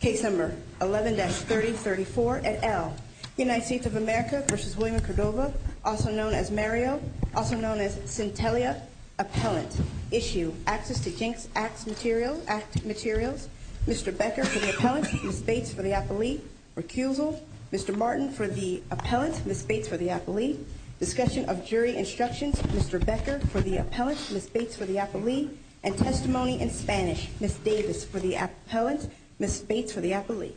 Case number 11-3034 et al. United States of America v. William Cordova, also known as Mario, also known as Centelia. Appellant. Issue. Access to Jinx Act materials. Mr. Becker for the appellant, Ms. Bates for the appellee. Recusal. Mr. Martin for the appellant, Ms. Bates for the appellee. Discussion of jury instructions. Mr. Becker for the appellant, Ms. Bates for the appellee. Testimony in Spanish. Ms. Davis for the appellant, Ms. Bates for the appellee.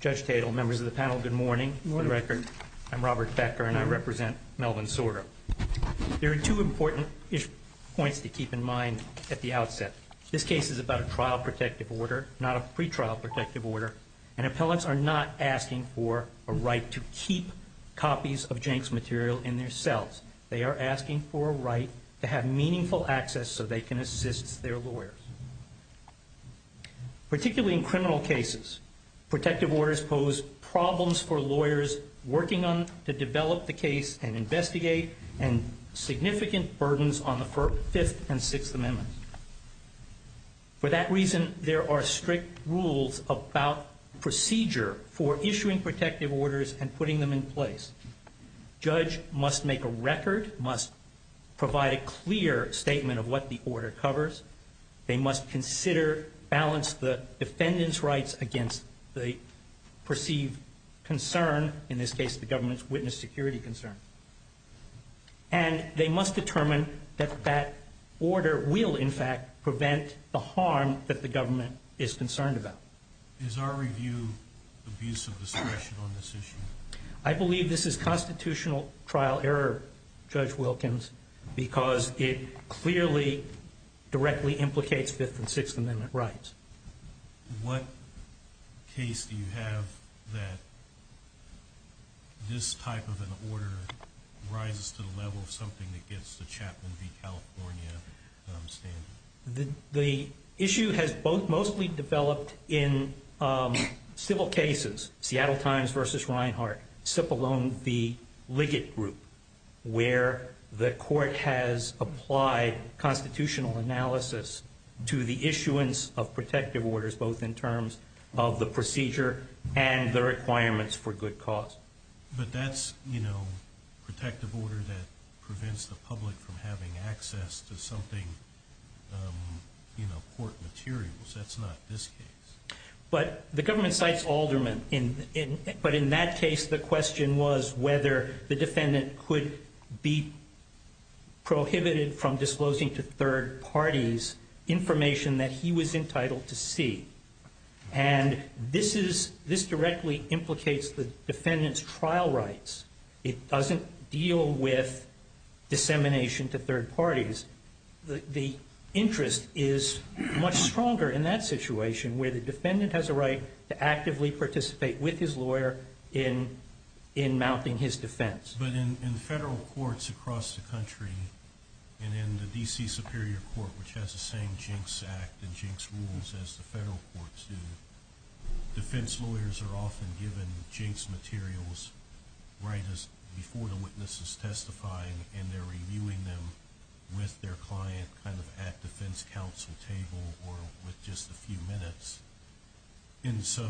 Judge Cato, members of the panel, good morning. I'm Robert Becker and I represent Melvin Sordo. There are two important points to keep in mind at the outset. This case is about a trial protective order, not a pretrial protective order. And appellants are not asking for a right to keep copies of Jinx material in their cells. They are asking for a right to have meaningful access so they can assist their lawyers. Particularly in criminal cases, protective orders pose problems for lawyers working on to develop the case and investigate and significant burdens on the 5th and 6th amendments. For that reason, there are strict rules about procedure for issuing protective orders and putting them in place. Judge must make a record, must provide a clear statement of what the order covers. They must consider, balance the defendant's rights against the perceived concern, in this case the government's witness security concern. And they must determine that that order will in fact prevent the harm that the government is concerned about. Is our review of use of discretion on this issue? I believe this is constitutional trial error, Judge Wilkins, because it clearly directly implicates 5th and 6th amendment rights. What case do you have that this type of an order rises to the level of something that gets the Chapman v. California standard? The issue has mostly developed in civil cases. Seattle Times v. Reinhart, Cipollone v. Liggett group, where the court has applied constitutional analysis to the issuance of protective orders both in terms of the procedure and the requirements for good cause. But that's, you know, protective order that prevents the public from having access to something, you know, court materials. That's not this case. But the government cites Alderman. But in that case, the question was whether the defendant could be prohibited from disclosing to third parties information that he was entitled to see. And this directly implicates the defendant's trial rights. It doesn't deal with dissemination to third parties. The interest is much stronger in that situation where the defendant has a right to actively participate with his lawyer in mounting his defense. But in federal courts across the country, and in the D.C. Superior Court, which has the same Jinx Act and Jinx rules as the federal courts do, defense lawyers are often given Jinx materials right before the witness is testifying, and they're reviewing them with their client kind of at the defense counsel table or with just a few minutes. And so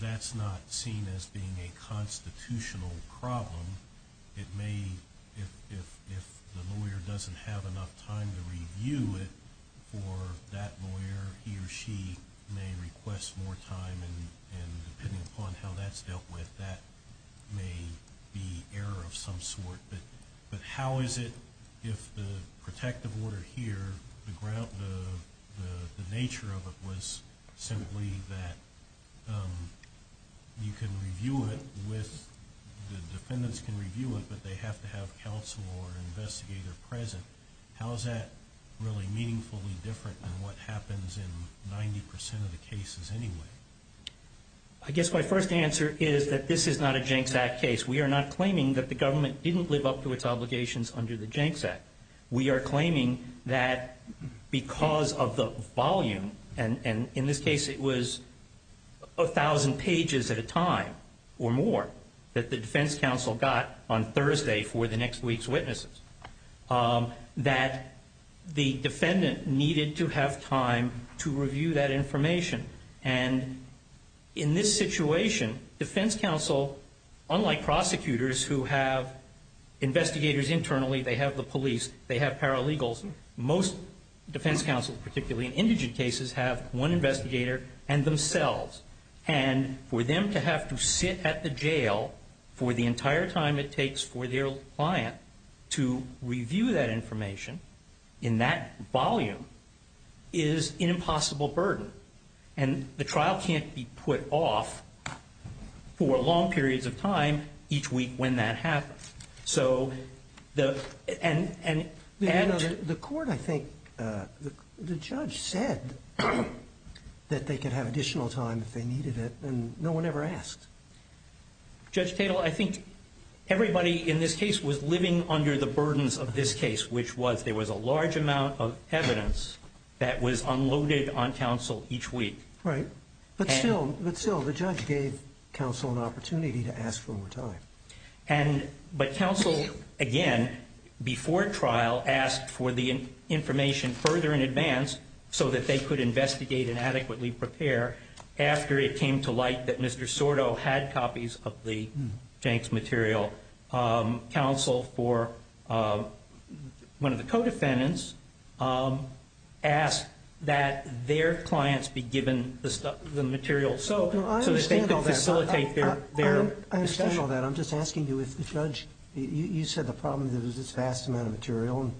that's not seen as being a constitutional problem. It may, if the lawyer doesn't have enough time to review it for that lawyer, he or she may request more time. And depending upon how that's dealt with, that may be error of some sort. But how is it if the protective order here, the nature of it was simply that you can review it with, the defendants can review it, but they have to have counsel or an investigator present. How is that really meaningfully different than what happens in 90% of the cases anyway? I guess my first answer is that this is not a Jinx Act case. We are not claiming that the government didn't live up to its obligations under the Jinx Act. We are claiming that because of the volume, and in this case it was 1,000 pages at a time or more that the defense counsel got on Thursday for the next week's witnesses, that the defendant needed to have time to review that information. And in this situation, defense counsel, unlike prosecutors who have investigators internally, they have the police, they have paralegals, most defense counsel, particularly in indigent cases, have one investigator and themselves. And for them to have to sit at the jail for the entire time it takes for their client to review that information in that volume is an impossible burden. And the trial can't be put off for long periods of time each week when that happens. The court, I think, the judge said that they could have additional time if they needed it, and no one ever asked. Judge Tatel, I think everybody in this case was living under the burdens of this case, which was there was a large amount of evidence that was unloaded on counsel each week. Right. But still, the judge gave counsel an opportunity to ask for more time. But counsel, again, before trial, asked for the information further in advance so that they could investigate and adequately prepare after it came to light that Mr. Sordo had copies of the Janks material. Counsel for one of the co-defendants asked that their clients be given the material. I understand all that. I'm just asking you if the judge, you said the problem was this vast amount of material and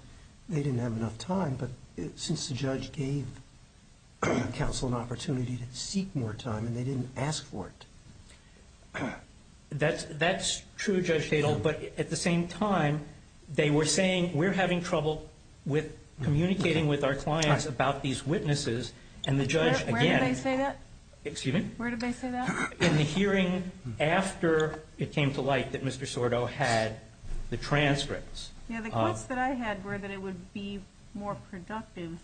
they didn't have enough time. But since the judge gave counsel an opportunity to seek more time and they didn't ask for it. That's true, Judge Tatel. But at the same time, they were saying, we're having trouble with communicating with our clients about these witnesses. Where did they say that? Excuse me? Where did they say that? In the hearing after it came to light that Mr. Sordo had the transcripts. Yeah, the quotes that I had were that it would be more productive,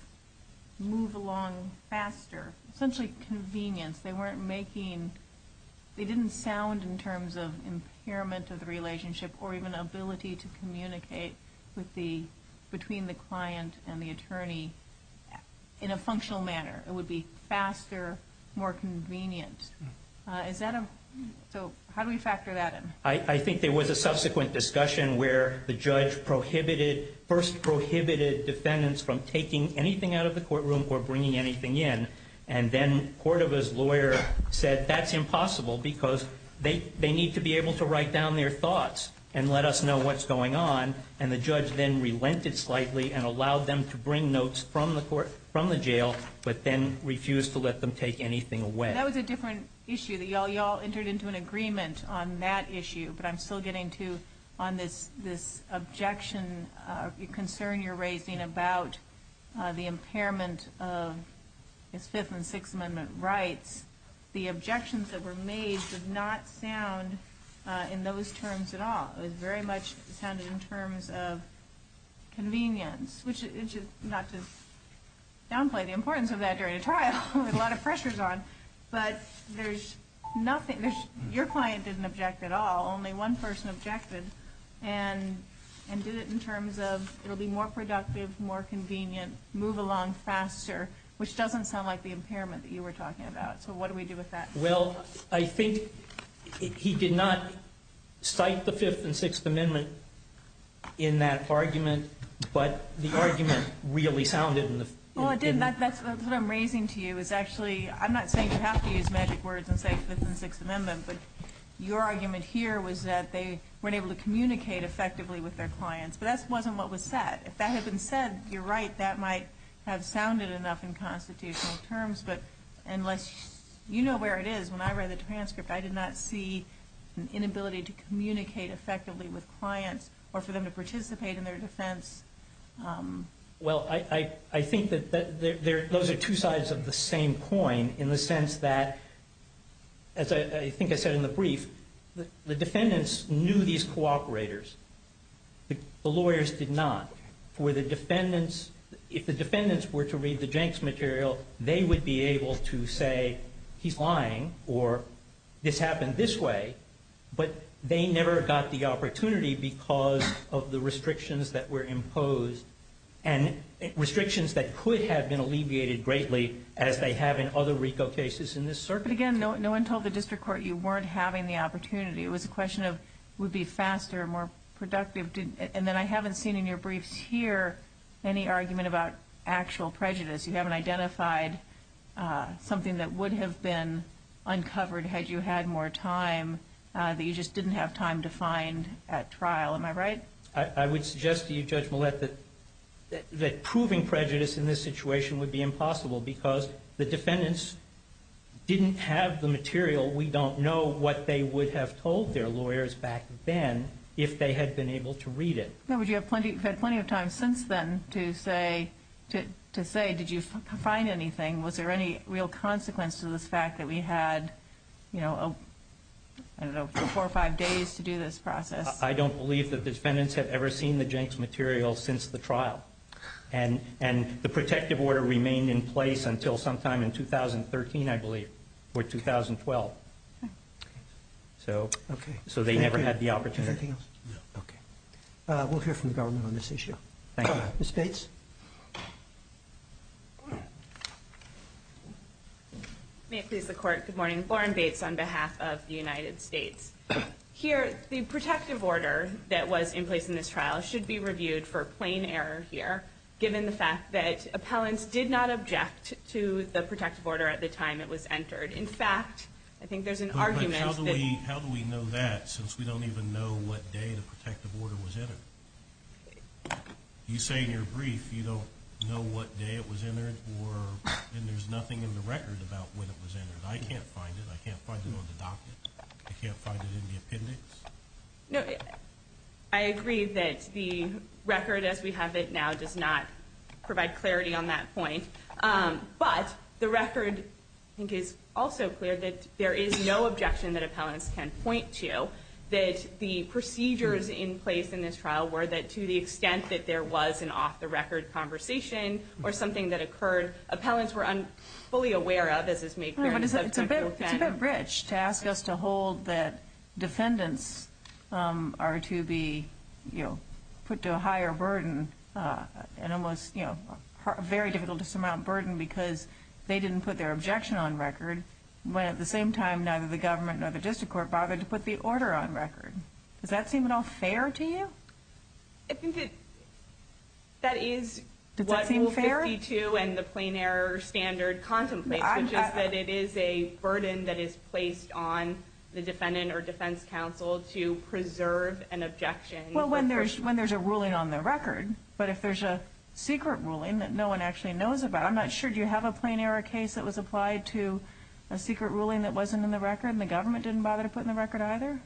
move along faster, essentially convenient. They didn't sound in terms of impairment of the relationship or even ability to communicate between the client and the attorney in a functional manner. It would be faster, more convenient. So how do we factor that in? I think there was a subsequent discussion where the judge first prohibited defendants from taking anything out of the courtroom or bringing anything in. And then Cordova's lawyer said that's impossible because they need to be able to write down their thoughts and let us know what's going on. And the judge then relented slightly and allowed them to bring notes from the court, from the jail, but then refused to let them take anything away. That was a different issue. You all entered into an agreement on that issue, but I'm still getting to this objection, concern you're raising about the impairment of the Fifth and Sixth Amendment rights. The objections that were made did not sound in those terms at all. It very much sounded in terms of convenience, which is not to downplay the importance of that during a trial with a lot of pressures on. But your client didn't object at all. Only one person objected and did it in terms of it will be more productive, more convenient, move along faster, which doesn't sound like the impairment that you were talking about. So what do we do with that? Well, I think he did not cite the Fifth and Sixth Amendment in that argument, but the argument really sounded. Well, that's what I'm raising to you is actually, I'm not saying you have to use magic words and say Fifth and Sixth Amendment, but your argument here was that they weren't able to communicate effectively with their clients, but that wasn't what was said. If that had been said, you're right, that might have sounded enough in constitutional terms. But unless you know where it is, when I read the transcript, I did not see an inability to communicate effectively with clients or for them to participate in their defense. Well, I think that those are two sides of the same coin in the sense that, as I think I said in the brief, the defendants knew these cooperators. The lawyers did not. If the defendants were to read the Jenks material, they would be able to say he's lying or this happened this way, but they never got the opportunity because of the restrictions that were imposed, and restrictions that could have been alleviated greatly as they have in other RICO cases in this circuit. But again, no one told the district court you weren't having the opportunity. It was a question of would be faster, more productive, and then I haven't seen in your briefs here any argument about actual prejudice. You haven't identified something that would have been uncovered had you had more time, that you just didn't have time to find at trial. Am I right? I would suggest to you, Judge Millett, that proving prejudice in this situation would be impossible because the defendants didn't have the material. We don't know what they would have told their lawyers back then if they had been able to read it. Would you have plenty of time since then to say did you find anything? Was there any real consequence to the fact that we had four or five days to do this process? I don't believe that the defendants had ever seen the Jenks material since the trial, and the protective order remained in place until sometime in 2013, I believe, or 2012, so they never had the opportunity. Is there anything else? No. Okay. We'll hear from the government on this issue. Thank you. Ms. Bates? May it please the Court, good morning. Lauren Bates on behalf of the United States. Here, the protective order that was in place in this trial should be reviewed for plain error here, given the fact that appellants did not object to the protective order at the time it was entered. In fact, I think there's an argument that... You don't know what day the protective order was entered. You say in your brief you don't know what day it was entered, and there's nothing in the record about when it was entered. I can't find it. I can't find it on the documents. I can't find it in the opinions. I agree that the record as we have it now does not provide clarity on that point, but the record is also clear that there is no objection that appellants can point to that the procedures in place in this trial were that to the extent that there was an off-the-record conversation or something that occurred, appellants were fully aware of, as this makes sense. It's a bit of a bridge to ask us to hold that defendants are to be put to a higher burden, and it was very difficult to surmount burden because they didn't put their objection on record, when at the same time neither the government nor the district court bothered to put the order on record. Does that seem at all fair to you? I think that is what 52 and the plain error standard contemplates, which is that it is a burden that is placed on the defendant or defense counsel to preserve an objection. Well, when there's a ruling on the record, but if there's a secret ruling that no one actually knows about, I'm not sure, do you have a plain error case that was applied to a secret ruling that wasn't in the record and the government didn't bother to put in the record either?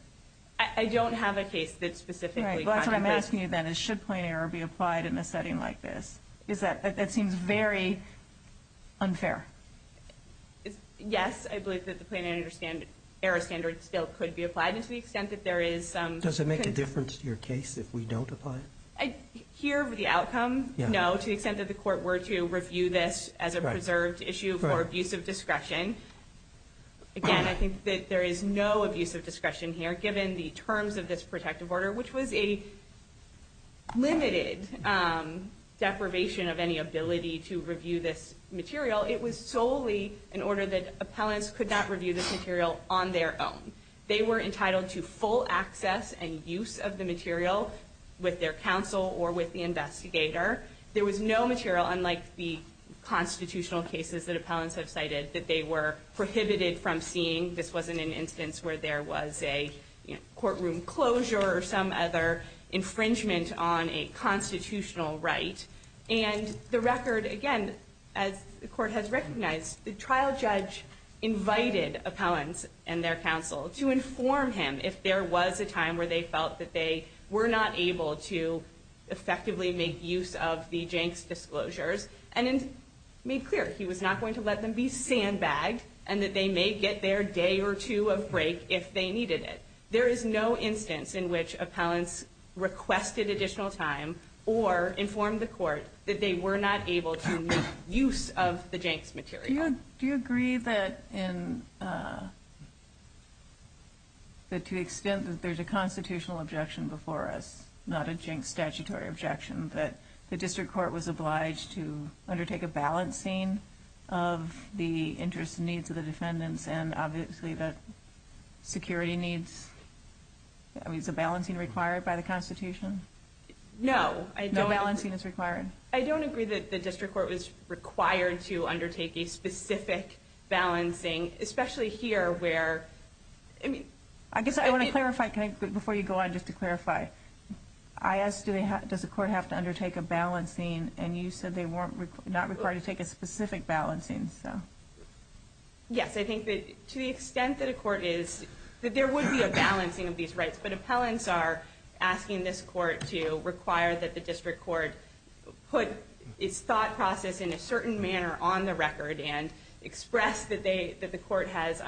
I don't have a case that specifically contemplates that. What I'm asking you then is should plain error be applied in a setting like this? That seems very unfair. Yes, I believe that the plain error standard still could be applied to the extent that there is some... Does it make a difference to your case if we don't apply it? Here the outcome, no, to the extent that the court were to review this as a preserved issue for abuse of discretion. Again, I think that there is no abuse of discretion here given the terms of this protective order, which was a limited deprivation of any ability to review this material. It was solely in order that appellants could not review this material on their own. They were entitled to full access and use of the material with their counsel or with the investigator. There was no material, unlike the constitutional cases that appellants have cited, that they were prohibited from seeing. This wasn't an instance where there was a courtroom closure or some other infringement on a constitutional right. The record, again, as the court has recognized, the trial judge invited appellants and their counsel to inform him if there was a time where they felt that they were not able to effectively make use of the Jank's disclosures and made clear he was not going to let them be sandbagged and that they may get their day or two of break if they needed it. There is no instance in which appellants requested additional time or informed the court that they were not able to make use of the Jank's material. Do you agree that to the extent that there's a constitutional objection before us, not a Jank's statutory objection, that the district court was obliged to undertake a balancing of the interests and needs of the defendants and obviously the security needs, the balancing required by the Constitution? No. No balancing is required? I don't agree that the district court was required to undertake a specific balancing, especially here where... I guess I want to clarify, before you go on, just to clarify. I asked, does the court have to undertake a balancing, and you said they were not required to take a specific balancing. Yes, I think that to the extent that a court is, that there would be a balancing of these rights, but appellants are asking this court to require that the district court put its thought process in a certain manner on the record and express that the court has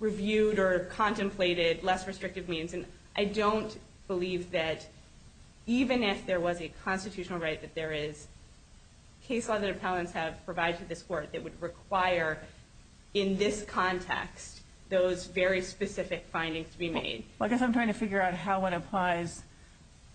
reviewed or contemplated less restrictive means. I don't believe that even if there was a constitutional right that there is, case law that appellants have provided to this court that would require in this context those very specific findings to be made. I guess I'm trying to figure out how one applies,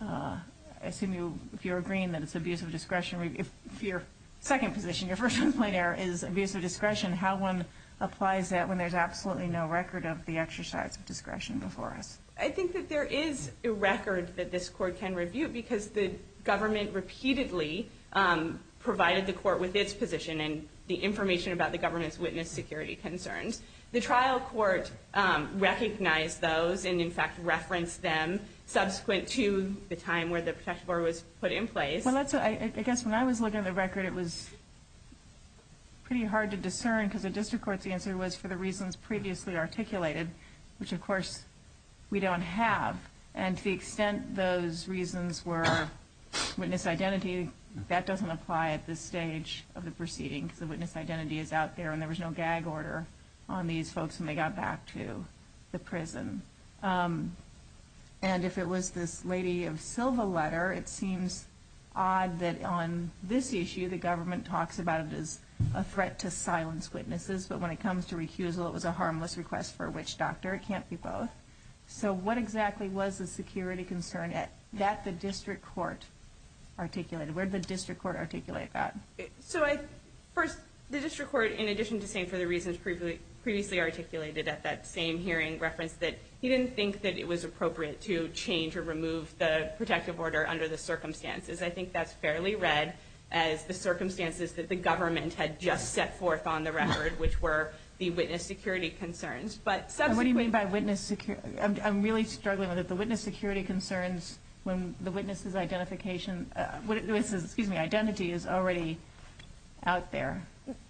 I assume if you're agreeing that it's abuse of discretion, if your second position, your first complaint error is abuse of discretion, how one applies that when there's absolutely no record of the exercise of discretion before it. I think that there is a record that this court can review, because the government repeatedly provided the court with its position and the information about the government's witness security concerns. The trial court recognized those and, in fact, referenced them subsequent to the time where the process was put in place. I guess when I was looking at the record, it was pretty hard to discern, because the district court's answer was for the reasons previously articulated, which, of course, we don't have. And to the extent those reasons were witness identity, that doesn't apply at this stage of the proceeding. The witness identity is out there, and there was no gag order on these folks when they got back to the prison. And if it was this lady of Silva letter, it seems odd that on this issue, the government talks about it as a threat to silence witnesses, but when it comes to recusal, it was a harmless request for which doctor. It can't be both. So what exactly was the security concern that the district court articulated? Where did the district court articulate that? First, the district court, in addition to saying for the reasons previously articulated at that same hearing, referenced that he didn't think that it was appropriate to change or remove the protective order under the circumstances. I think that's fairly read as the circumstances that the government had just set forth on the record, which were the witness security concerns. What do you mean by witness security? I'm really struggling with it. The witness identity is already out there.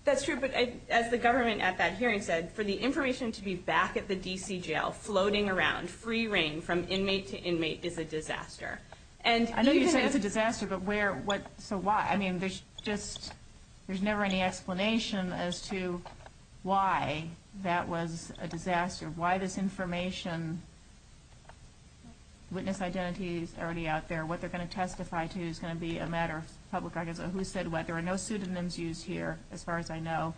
That's true, but as the government at that hearing said, for the information to be back at the D.C. jail, floating around, free reign from inmate to inmate, is a disaster. I know you say it's a disaster, but where, what, so why? I mean, there's never any explanation as to why that was a disaster, why this information, witness identity is already out there. What they're going to testify to is going to be a matter of public argument. Who said what? There are no pseudonyms used here, as far as I know.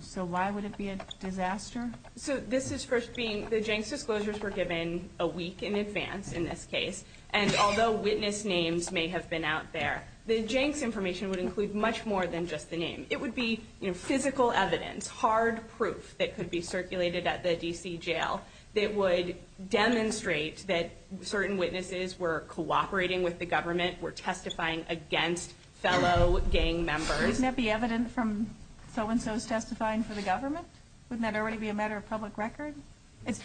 So why would it be a disaster? So this is first being, the Jenks disclosures were given a week in advance in this case, and although witness names may have been out there, the Jenks information would include much more than just the name. It would be physical evidence, hard proof, that could be circulated at the D.C. jail that would demonstrate that certain witnesses were cooperating with the government, were testifying against fellow gang members. Wouldn't that be evidence from so-and-so's testifying for the government? Wouldn't that already be a matter of public record?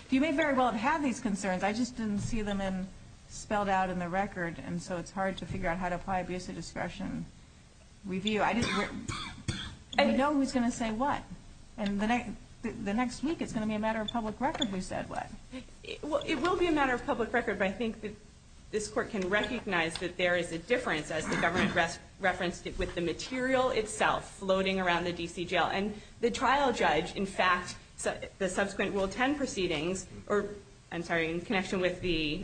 You may very well have these concerns. I just didn't see them spelled out in the record, and so it's hard to figure out how to apply abuse of discretion review. I didn't know who was going to say what. And the next week it's going to be a matter of public record who said what. Well, it will be a matter of public record, but I think that this court can recognize that there is a difference as the government referenced it with the material itself floating around the D.C. jail. And the trial judge, in fact, the subsequent Rule 10 proceedings, in connection with the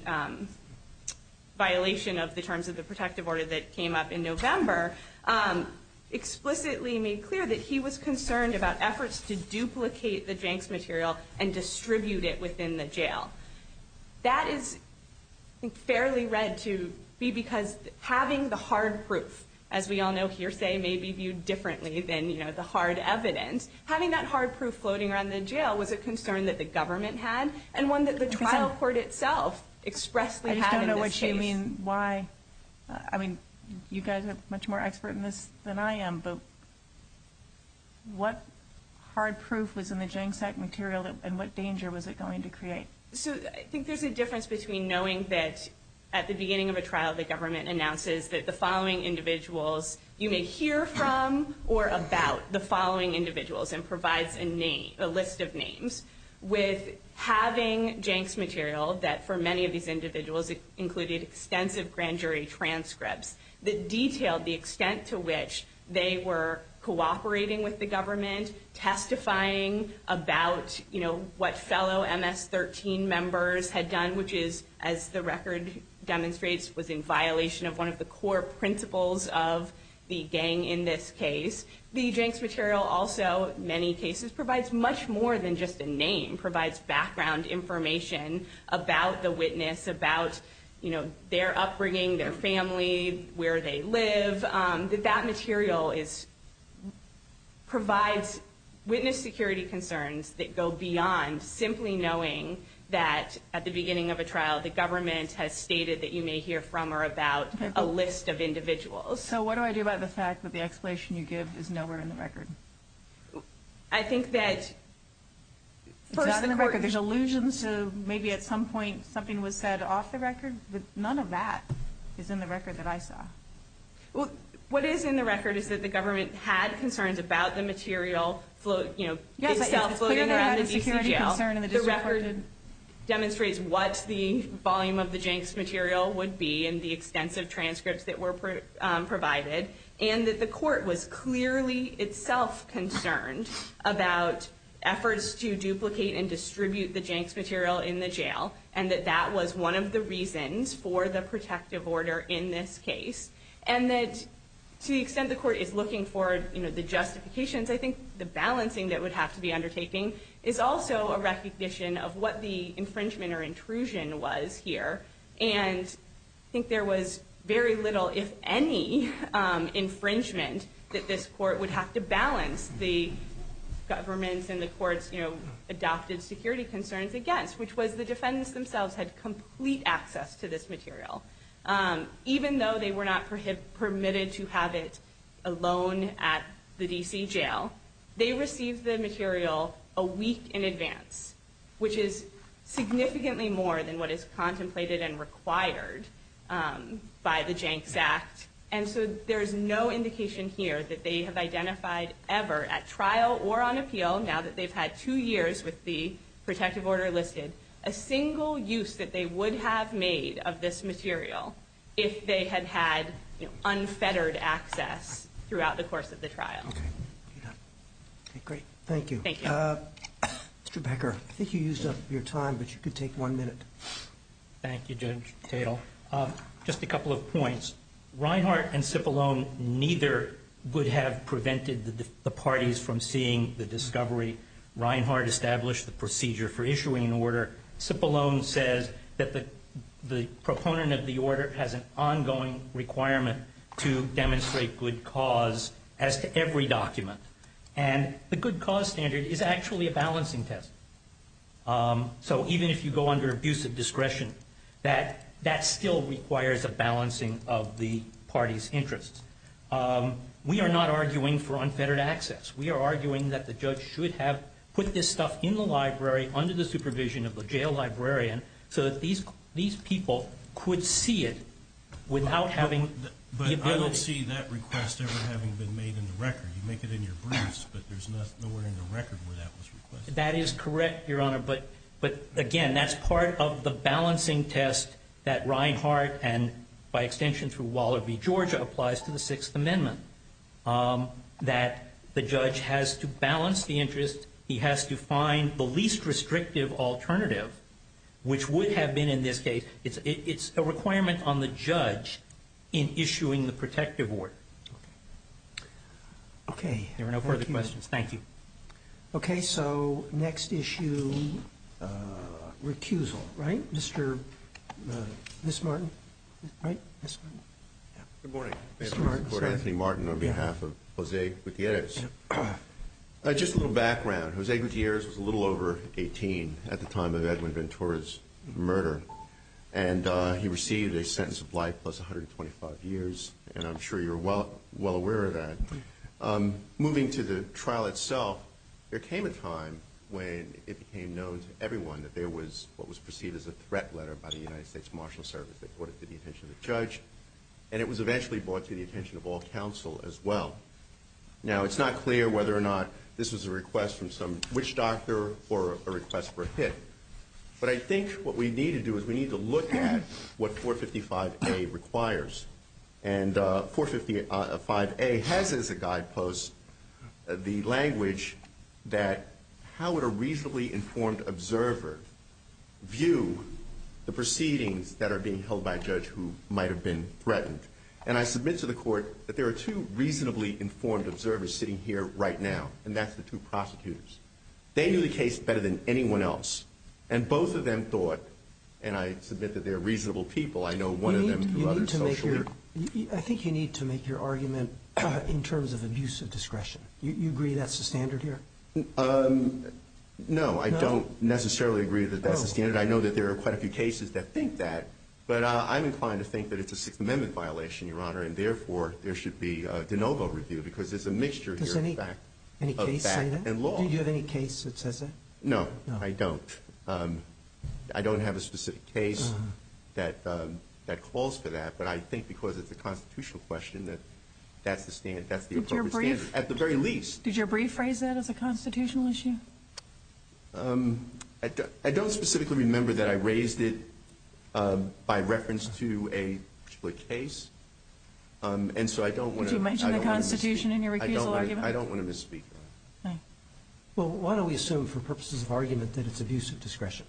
violation of the terms of the protective order that came up in November, explicitly made clear that he was concerned about efforts to duplicate the Jenks material and distribute it within the jail. That is fairly read to be because having the hard proof, as we all know here, may be viewed differently than the hard evidence. Having that hard proof floating around the jail was a concern that the government had and one that the trial court itself expressly had. I don't know what you mean, why. You guys are much more expert in this than I am, but what hard proof was in the Jenks Act material and what danger was it going to create? I think there's a difference between knowing that at the beginning of a trial the government announces that the following individuals you may hear from or about the following individuals and provides a list of names, with having Jenks material that for many of these individuals included extensive grand jury transcripts that detailed the extent to which they were cooperating with the government, testifying about what fellow MS-13 members had done, which is, as the record demonstrates, was in violation of one of the core principles of the gang in this case. The Jenks material also, in many cases, provides much more than just a name. It provides background information about the witness, about their upbringing, their family, where they live. That material provides witness security concerns that go beyond simply knowing that at the beginning of a trial the government has stated that you may hear from or about a list of individuals. So what do I do about the fact that the explanation you give is nowhere in the record? I think that there's allusion to maybe at some point something was said off the record, but none of that is in the record that I saw. What is in the record is that the government had concerns about the material, itself floating around in the jail. The record demonstrates what the volume of the Jenks material would be and the extensive transcripts that were provided, and that the court was clearly itself concerned about efforts to duplicate and distribute the Jenks material in the jail, and that that was one of the reasons for the protective order in this case, and that to the extent the court is looking for the justifications, I think the balancing that would have to be undertaken is also a recognition of what the infringement or intrusion was here, and I think there was very little, if any, infringement that this court would have to balance the government and the court's adopted security concerns against, which was the defendants themselves had complete access to this material, even though they were not permitted to have it alone at the D.C. jail. They received the material a week in advance, which is significantly more than what is contemplated and required by the Jenks Act, and so there is no indication here that they have identified ever at trial or on appeal, now that they've had two years with the protective order listed, a single use that they would have made of this material if they had had unfettered access throughout the course of the trial. Thank you. Mr. Becker, I think you used up your time, but you can take one minute. Thank you, Judge Tatel. Just a couple of points. Reinhart and Cipollone neither would have prevented the parties from seeing the discovery. Reinhart established the procedure for issuing an order. Cipollone says that the proponent of the order has an ongoing requirement to demonstrate good cause as to every document, and the good cause standard is actually a balancing test. So even if you go under abusive discretion, that still requires a balancing of the parties' interests. We are not arguing for unfettered access. We are arguing that the judge should have put this stuff in the library under the supervision of a jail librarian so that these people could see it without having the ability. But I don't see that request ever having been made in the record. You make it in your briefs, but there's nowhere in the record where that was requested. That is correct, Your Honor, but again, that's part of the balancing test that Reinhart and by extension through Waller v. Georgia applies to the Sixth Amendment, that the judge has to balance the interests. He has to find the least restrictive alternative, which would have been in this case, it's a requirement on the judge in issuing the protective order. Okay. There are no further questions. Thank you. Okay. So next issue, recusal. Right? Mr. Martin. Right? Good morning. Mr. Martin. Good morning, Mr. Martin, on behalf of Jose Gutierrez. Just a little background. Jose Gutierrez was a little over 18 at the time of Edwin Ventura's murder, and he received a sentence of life plus 125 years, and I'm sure you're well aware of that. Moving to the trial itself, there came a time when it became known to everyone that there was what was perceived as a threat letter by the United States Marshals Service that brought it to the attention of the judge, and it was eventually brought to the attention of all counsel as well. Now, it's not clear whether or not this was a request from some witch doctor or a request for a hit, but I think what we need to do is we need to look at what 455A requires, and 455A has as a guidepost the language that how would a reasonably informed observer view the proceedings that are being held by a judge who might have been threatened. And I submit to the court that there are two reasonably informed observers sitting here right now, and that's the two prostitutes. They knew the case better than anyone else, and both of them thought, and I submit that they're reasonable people. I know one of them is a social worker. I think you need to make your argument in terms of abuse of discretion. Do you agree that's the standard here? No, I don't necessarily agree that that's the standard. I know that there are quite a few cases that think that, but I'm inclined to think that it's a Sixth Amendment violation, Your Honor, and therefore there should be a de novo review because there's a mixture here of fact and law. Do you have any case that says that? No, I don't. I don't have a specific case that calls for that, but I think because it's a constitutional question that that's the appropriate standard, at the very least. Did you rephrase that as a constitutional issue? I don't specifically remember that I raised it by reference to a case, and so I don't want to misspeak that. Did you mention the Constitution in your rebuttal argument? I don't want to misspeak that. Well, why don't we assume for purposes of argument that it's abuse of discretion?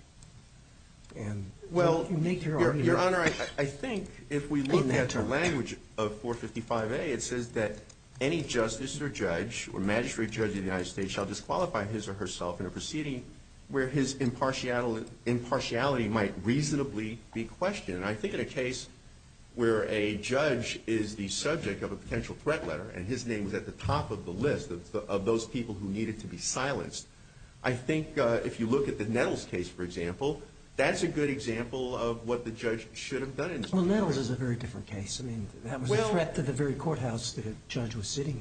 Well, Your Honor, I think if we look at the language of 455A, it says that any justice or judge or magistrate judge of the United States shall disqualify his or herself in a proceeding where his impartiality might reasonably be questioned. I think in a case where a judge is the subject of a potential threat letter and his name is at the top of the list of those people who needed to be silenced, I think if you look at the Nettles case, for example, that's a good example of what the judge should have done. Well, Nettles is a very different case. That was a threat to the very courthouse that a judge was sitting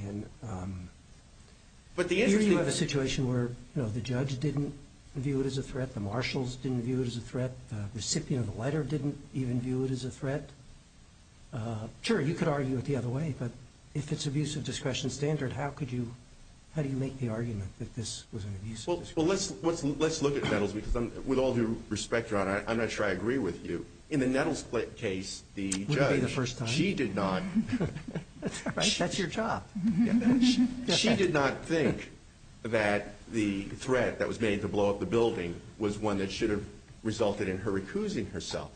in. Here you have a situation where the judge didn't view it as a threat, the marshals didn't view it as a threat, the recipient of the letter didn't even view it as a threat. Sure, you could argue it the other way, but if it's abuse of discretion standard, how do you make the argument that this was an abuse of discretion? Well, let's look at Nettles, because with all due respect, Your Honor, I'm not sure I agree with you. In the Nettles case, the judge, she did not think that the threat that was made to blow up the building was one that should have resulted in her recusing herself.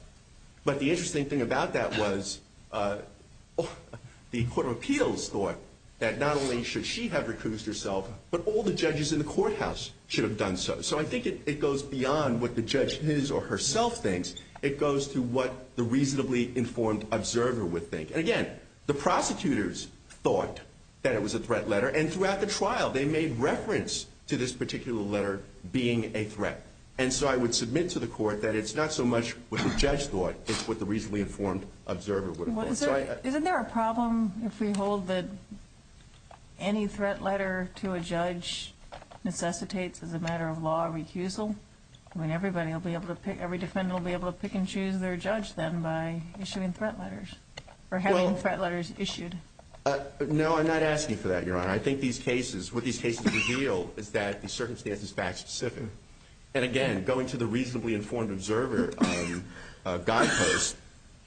But the interesting thing about that was the Court of Appeals thought that not only should she have recused herself, but all the judges in the courthouse should have done so. So I think it goes beyond what the judge his or herself thinks. It goes to what the reasonably informed observer would think. And again, the prosecutors thought that it was a threat letter, and throughout the trial, they made reference to this particular letter being a threat. And so I would submit to the Court that it's not so much what the judge thought, it's what the reasonably informed observer would have thought. Isn't there a problem if we hold that any threat letter to a judge necessitates, as a matter of law, a recusal? I mean, every defendant will be able to pick and choose their judge then by issuing threat letters, or having threat letters issued. No, I'm not asking for that, Your Honor. I think what these cases reveal is that the circumstances are fact specific. And again, going to the reasonably informed observer guidepost,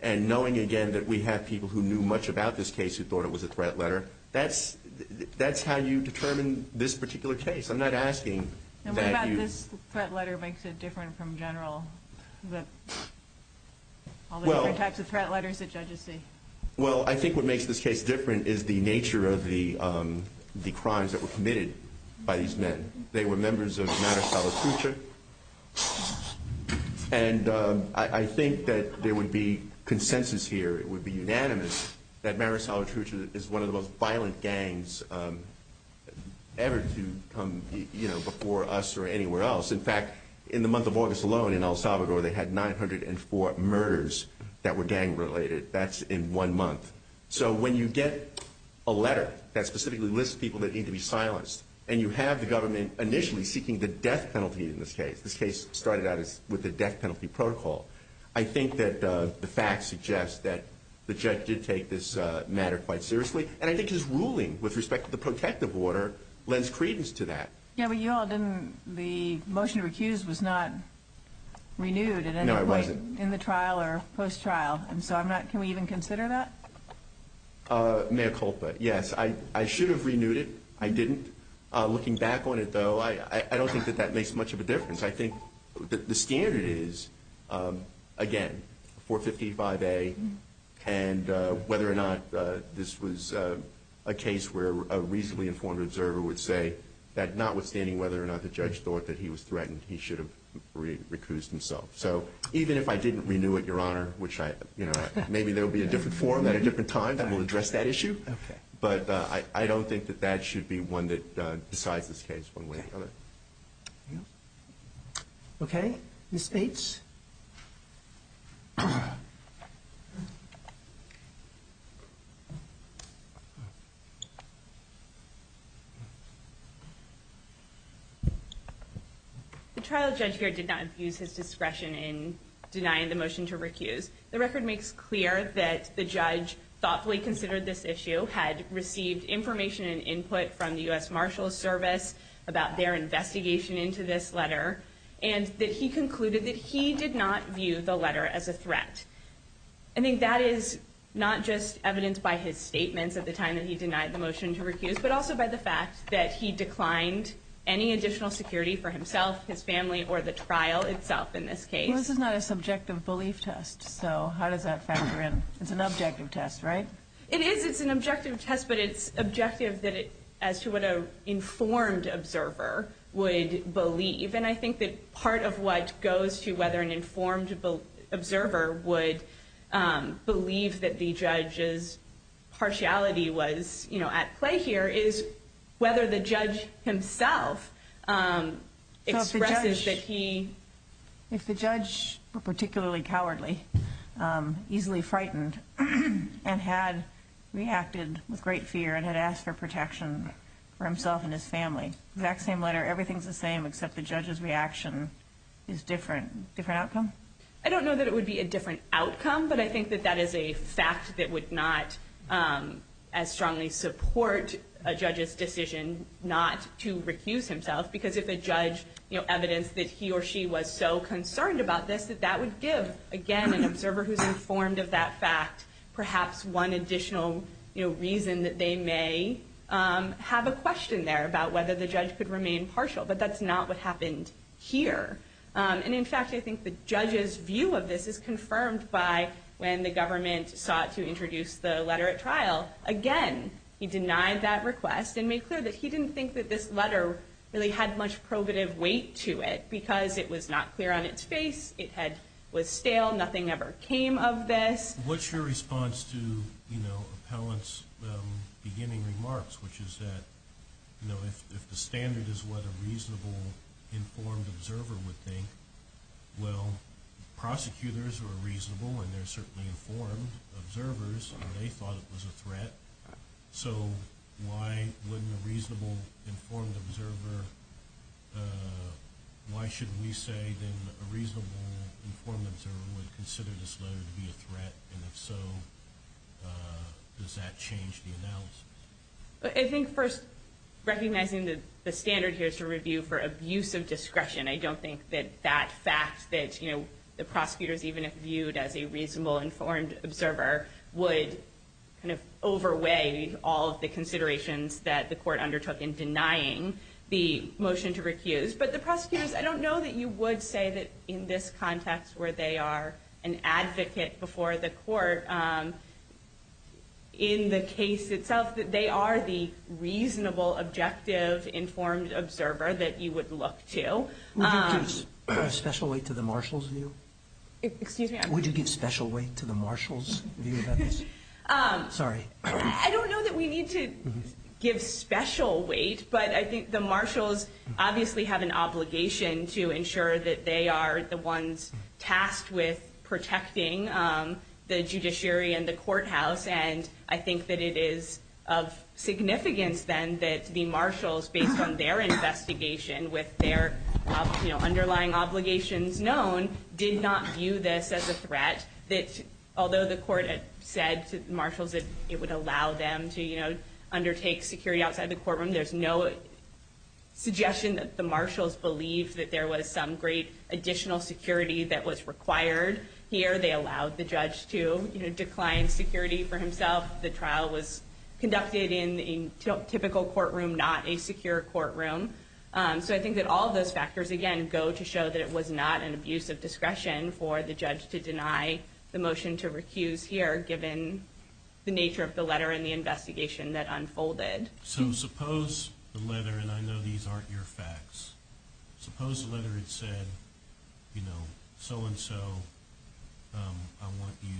and knowing again that we have people who knew much about this case who thought it was a threat letter, that's how you determine this particular case. I'm not asking that you... And what about this threat letter makes it different from general? All the other types of threat letters that judges see. Well, I think what makes this case different is the nature of the crimes that were committed by these men. They were members of Maricel LaCruce, and I think that there would be consensus here, it would be unanimous that Maricel LaCruce is one of the most violent gangs ever to come before us or anywhere else. In fact, in the month of August alone in El Salvador, they had 904 murders that were gang related. That's in one month. So when you get a letter that specifically lists people that need to be silenced, and you have the government initially seeking the death penalty in this case, the case started out with the death penalty protocol, I think that the facts suggest that the judge did take this matter quite seriously, and I think his ruling with respect to the protective order lends credence to that. Yeah, but you all didn't... the motion to recuse was not renewed in the trial or post-trial, and so I'm not... can we even consider that? Mayor Culpa, yes. I should have renewed it. I didn't. Looking back on it, though, I don't think that that makes much of a difference. I think the standard is, again, 455A, and whether or not this was a case where a reasonably informed observer would say that notwithstanding whether or not the judge thought that he was threatened, he should have recused himself. So even if I didn't renew it, Your Honor, which I... maybe there will be a different forum at a different time that will address that issue, but I don't think that that should be one that decides this case one way or another. Okay. Ms. Bates? The trial judge here did not abuse his discretion in denying the motion to recuse. The record makes clear that the judge thoughtfully considered this issue, had received information and input from the U.S. Marshals Service about their investigation into this letter, and that he concluded that he did not view the letter as a threat. I think that is not just evidenced by his statement at the time that he denied the motion to recuse, but also by the fact that he declined any additional security for himself, his family, or the trial itself in this case. This is not a subjective belief test, so how does that factor in? It's an objective test, right? It is. It's an objective test, but it's objective as to what an informed observer would believe, and I think that part of what goes to whether an informed observer would believe that the judge's partiality was at play here is whether the judge himself expresses that he... If the judge were particularly cowardly, easily frightened, and had reacted with great fear and had asked for protection for himself and his family, the exact same letter, everything's the same except the judge's reaction is different. Different outcome? I don't know that it would be a different outcome, but I think that that is a fact that would not as strongly support a judge's decision not to recuse himself, because if the judge evidenced that he or she was so concerned about this, that that would give, again, an observer who's informed of that fact perhaps one additional reason that they may have a question there about whether the judge could remain partial, but that's not what happened here. In fact, I think the judge's view of this is confirmed by when the government sought to introduce the letter at trial. Again, he denied that request and made clear that he didn't think that this letter really had much probative weight to it because it was not clear on its face. It was stale. Nothing ever came of this. What's your response to the appellant's beginning remarks, which is that if the standard is what a reasonable, informed observer would think, well, prosecutors are reasonable, and they're certainly informed observers, and they thought it was a threat. So why wouldn't a reasonable, informed observer, why shouldn't he say that a reasonable, informed observer would consider this letter to be a threat, and if so, does that change the announcement? I think first, recognizing that the standard here is to review for abuse of discretion. I don't think that that fact that the prosecutors even if viewed as a reasonable, informed observer would overweigh all of the considerations that the court undertook in denying the motion to recuse. But the prosecutors, I don't know that you would say that in this context where they are an advocate before the court in the case itself, that they are the reasonable, objective, informed observer that you would look to. Would you give special weight to the marshal's view? Excuse me? Would you give special weight to the marshal's view about this? Sorry. I don't know that we need to give special weight, but I think the marshals obviously have an obligation to ensure that they are the ones tasked with protecting the judiciary and the courthouse, and I think that it is of significance then that the marshals, based on their investigation with their underlying obligations known, did not view this as a threat. Although the court said to the marshals that it would allow them to undertake security outside the courtroom, there's no suggestion that the marshals believed that there was some great additional security that was required here. They allowed the judge to decline security for himself. The trial was conducted in a typical courtroom, not a secure courtroom. So I think that all of those factors, again, go to show that it was not an abuse of discretion for the judge to deny the motion to recuse here, given the nature of the letter and the investigation that unfolded. So suppose the letter, and I know these aren't your facts, suppose the letter said, you know, so-and-so, I want you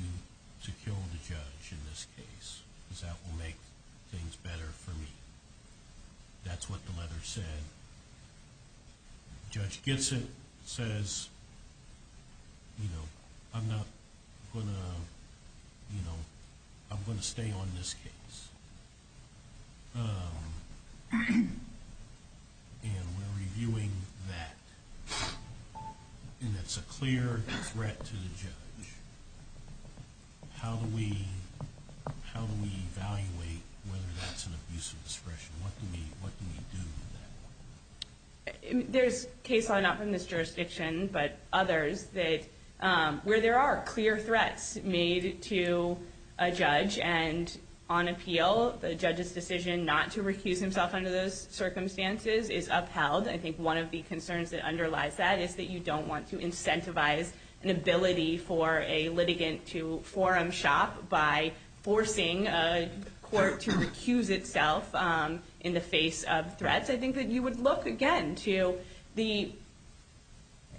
to kill the judge in this case, because that will make things better for me. That's what the letter said. Judge Gitsit says, you know, I'm not going to, you know, I'm going to stay on this case. And we're reviewing that, and it's a clear threat to the judge. How do we evaluate whether that's an abuse of discretion? What do we do with that? There's case law, not from this jurisdiction, but others, where there are clear threats made to a judge, and on appeal, the judge's decision not to recuse himself under those circumstances is upheld. I think one of the concerns that underlies that is that you don't want to incentivize the ability for a litigant to forum shop by forcing a court to recuse itself in the face of threats. I think that you would look, again, to the,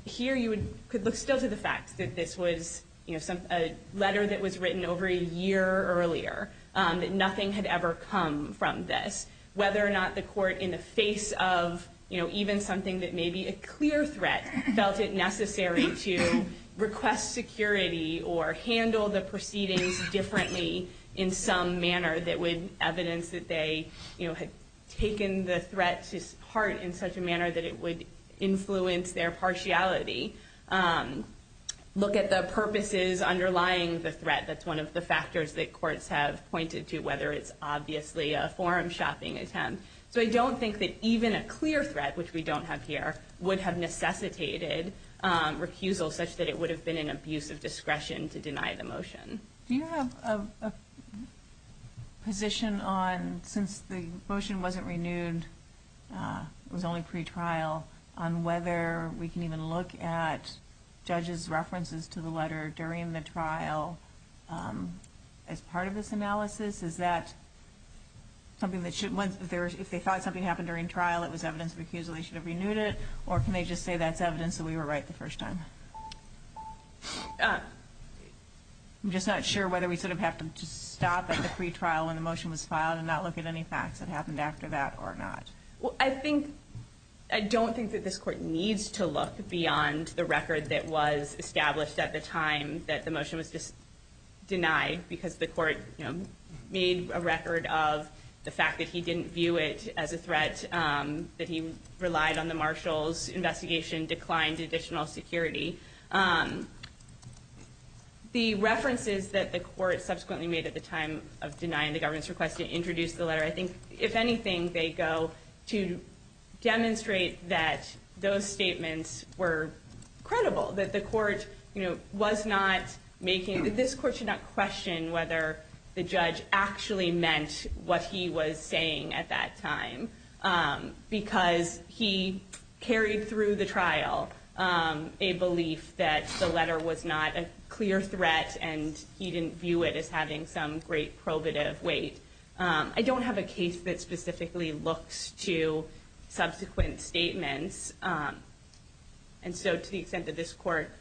here you could look still to the fact that this was, you know, a letter that was written over a year earlier, that nothing had ever come from this. Whether or not the court, in the face of, you know, even something that may be a clear threat, felt it necessary to request security or handle the proceedings differently in some manner that would evidence that they, you know, had taken the threat to heart in such a manner that it would influence their partiality. Look at the purposes underlying the threat. That's one of the factors that courts have pointed to, whether it's obviously a forum shopping attempt. So I don't think that even a clear threat, which we don't have here, would have necessitated recusal such that it would have been an abuse of discretion to deny the motion. Do you have a position on, since the motion wasn't renewed, it was only pretrial, on whether we can even look at judges' references to the letter during the trial as part of this analysis? Is that something that should, if they thought something happened during trial, it was evidence of refusal, they should have renewed it, or can they just say that's evidence that we were right the first time? I'm just not sure whether we sort of have to stop at the pretrial when the motion was filed and not look at any facts that happened after that or not. Well, I don't think that this court needs to look beyond the record that was established at the time that the motion was denied because the court, you know, made a record of the fact that he didn't view it as a threat, that he relied on the marshal's investigation, declined additional security. The references that the court subsequently made at the time of denying the government's request to introduce the letter, I think, if anything, they go to demonstrate that those statements were credible, that this court should not question whether the judge actually meant what he was saying at that time because he carried through the trial a belief that the letter was not a clear threat and he didn't view it as having some great probative weight. I don't have a case that specifically looks to subsequent statements. And so to the extent that this court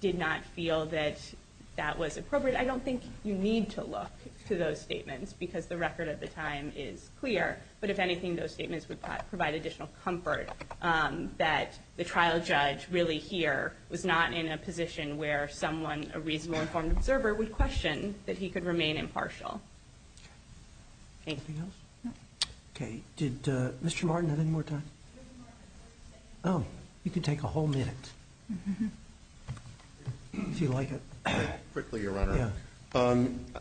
did not feel that that was appropriate, I don't think you need to look to those statements because the record at the time is clear. But if anything, those statements would provide additional comfort that the trial judge really here was not in a position where someone, a reasonable informed observer, would question that he could remain impartial. Anything else? Okay. Did Mr. Martin have any more time? Oh, you can take a whole minute if you like. Quickly, Your Honor.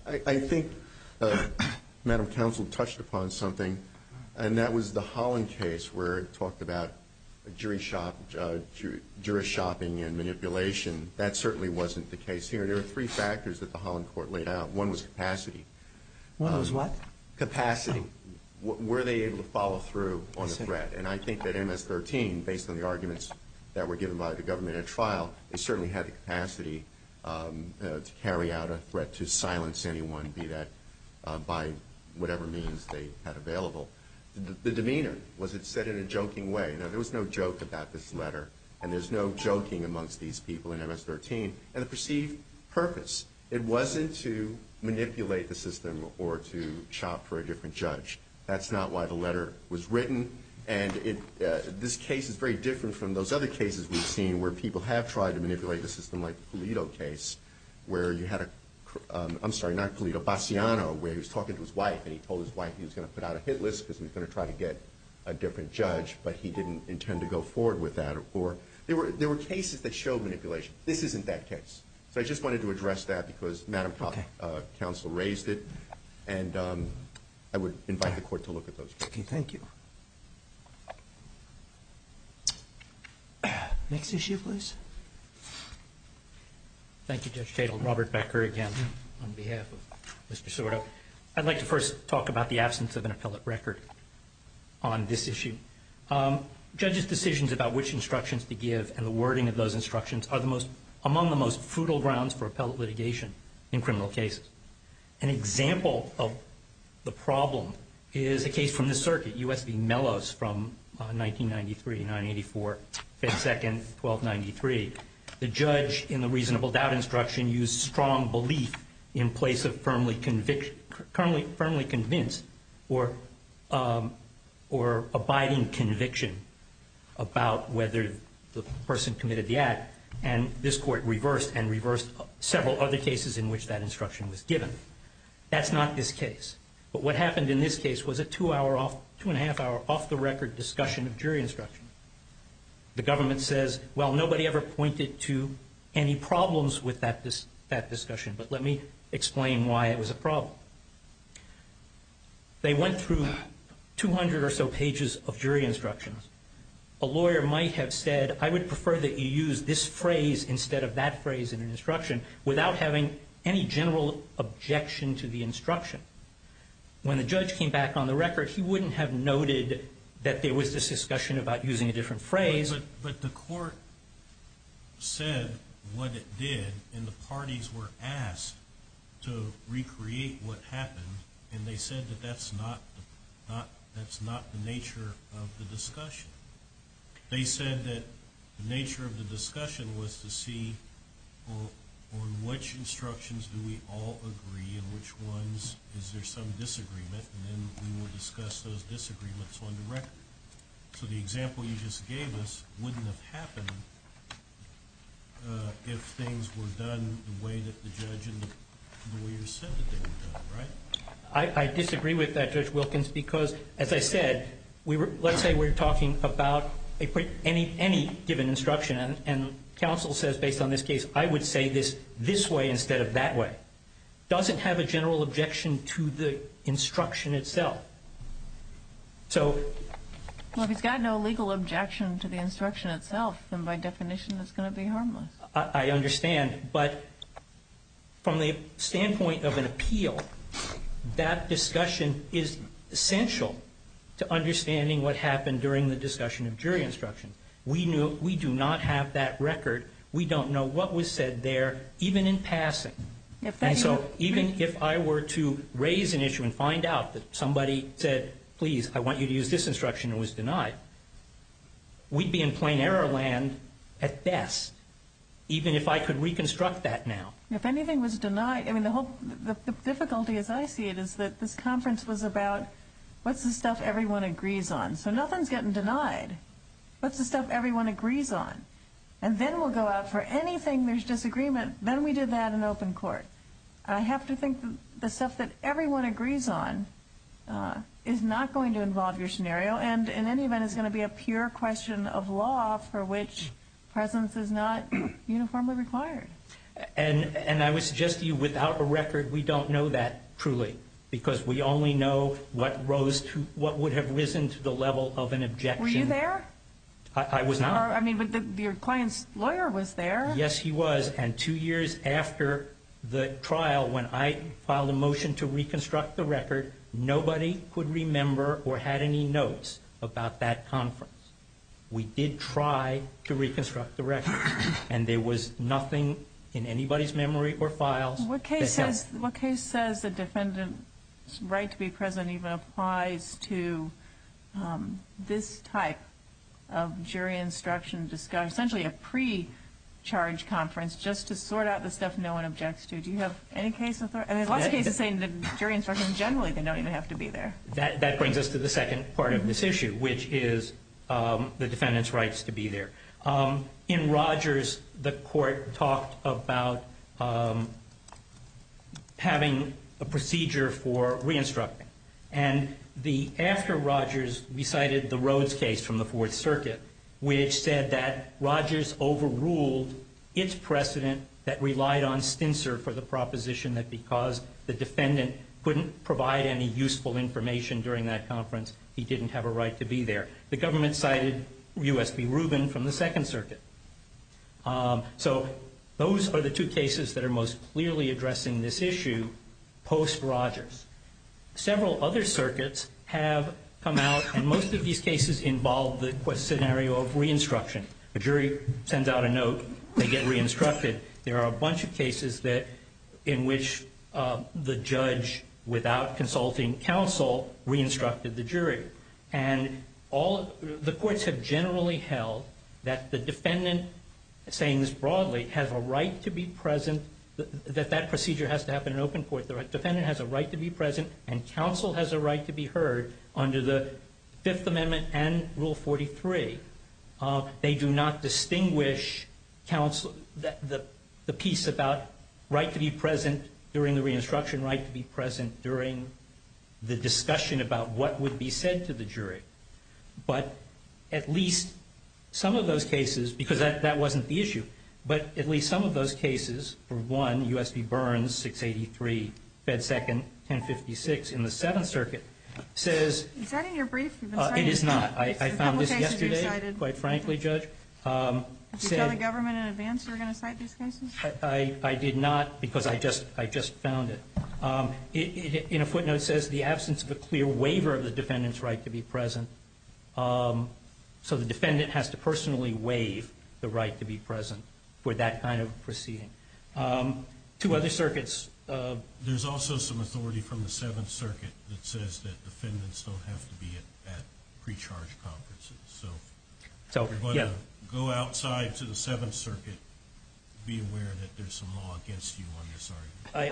I think Madam Counsel touched upon something and that was the Holland case where it talked about jury shopping and manipulation. That certainly wasn't the case here. There were three factors that the Holland court laid out. One was capacity. One was what? Capacity. Were they able to follow through on the threat? And I think that MS-13, based on the arguments that were given by the government at trial, they certainly had the capacity to carry out a threat to silence anyone, be that by whatever means they had available. The demeanor, was it said in a joking way? There was no joke about this letter and there's no joking amongst these people in MS-13. And the perceived purpose. It wasn't to manipulate the system or to shop for a different judge. That's not why the letter was written. And this case is very different from those other cases we've seen where people have tried to manipulate the system, like the Pulido case, where you had a, I'm sorry, not Pulido, Bastiano, where he was talking to his wife and he told his wife he was going to put out a hit list because he was going to try to get a different judge, but he didn't intend to go forward with that. There were cases that showed manipulation. This isn't that case. So I just wanted to address that because Madam Counsel raised it and I would invite the court to look at those cases. Thank you. Next issue, please. Thank you, Judge Cagle. Robert Becker again on behalf of Mr. Sordo. I'd like to first talk about the absence of an appellate record on this issue. Judges' decisions about which instructions to give and the wording of those instructions are among the most brutal grounds for appellate litigation in criminal cases. An example of the problem is a case from the circuit, U.S. v. Mellos from 1993 to 1984, 5th, 2nd, 1293. The judge, in the reasonable doubt instruction, used strong belief in place of firmly convinced or abiding conviction about whether the person committed the act, and this court reversed and reversed several other cases in which that instruction was given. That's not this case. But what happened in this case was a two-and-a-half-hour off-the-record discussion of jury instruction. The government says, well, nobody ever pointed to any problems with that discussion, but let me explain why it was a problem. They went through 200 or so pages of jury instructions. A lawyer might have said, I would prefer that you use this phrase instead of that phrase in the instruction without having any general objection to the instruction. When a judge came back on the record, he wouldn't have noted that there was this discussion about using a different phrase. But the court said what it did, and the parties were asked to recreate what happened, and they said that that's not the nature of the discussion. They said that the nature of the discussion was to see on which instructions do we all agree and which ones is there some disagreement, and then we would discuss those disagreements on the record. So the example you just gave us wouldn't have happened if things were done the way that the judge and the lawyer said that they were done, right? I disagree with that, Judge Wilkins, because, as I said, let's say we're talking about any given instruction, and counsel says based on this case, I would say this this way instead of that way. It doesn't have a general objection to the instruction itself. Well, if you've got no legal objection to the instruction itself, then by definition it's going to be harmless. I understand, but from the standpoint of an appeal, that discussion is essential to understanding what happened during the discussion of jury instructions. We do not have that record. We don't know what was said there, even in passing. And so even if I were to raise an issue and find out that somebody said, please, I want you to use this instruction and was denied, we'd be in plain error land at best, even if I could reconstruct that now. If anything was denied, I mean, the difficulty, as I see it, is that this conference was about what's the stuff everyone agrees on? So nothing's getting denied. What's the stuff everyone agrees on? And then we'll go out for anything there's disagreement, then we do that in open court. I have to think the stuff that everyone agrees on is not going to involve your scenario and in any event is going to be a pure question of law for which presence is not uniformly required. And I would suggest to you without a record we don't know that truly because we only know what would have risen to the level of an objection. Were you there? I was not. I mean, your client's lawyer was there. Yes, she was. And two years after the trial, when I filed a motion to reconstruct the record, nobody could remember or had any notes about that conference. We did try to reconstruct the record, and there was nothing in anybody's memory or files. What case says the defendant's right to be present even applies to this type of jury instruction, essentially a pre-charge conference just to sort out the stuff no one objects to? Do you have any case with that? A lot of cases say the jury instruction generally they don't even have to be there. That brings us to the second part of this issue, which is the defendant's rights to be there. In Rogers, the court talked about having a procedure for re-instructing. And after Rogers, we cited the Rhodes case from the Fourth Circuit, which said that Rogers overruled its precedent that relied on Spencer for the proposition that because the defendant couldn't provide any useful information during that conference, he didn't have a right to be there. The government cited U.S.B. Rubin from the Second Circuit. So those are the two cases that are most clearly addressing this issue post-Rogers. Several other circuits have come out, and most of these cases involve the scenario of re-instruction. A jury sends out a note, they get re-instructed. There are a bunch of cases in which the judge, without consulting counsel, re-instructed the jury. And the courts have generally held that the defendant, saying this broadly, has a right to be present, that that procedure has to happen in open court. The defendant has a right to be present, and counsel has a right to be heard under the Fifth Amendment and Rule 43. They do not distinguish the piece about right to be present during the re-instruction, right to be present during the discussion about what would be said to the jury. But at least some of those cases, because that wasn't the issue, but at least some of those cases, for one, U.S.B. Burns, 683, Fed Second, 1056 in the Seventh Circuit, says- Is that in your brief? It is not. I found this yesterday, quite frankly, Judge. Did you have a government in advance who were going to cite these cases? I did not, because I just found it. In a footnote, it says, the absence of a clear waiver of the defendant's right to be present. So the defendant has to personally waive the right to be present for that kind of proceeding. Two other circuits- There's also some authority from the Seventh Circuit that says that defendants don't have to be at pre-charge conferences. So if you're going to go outside to the Seventh Circuit, be aware that there's some law against you on this.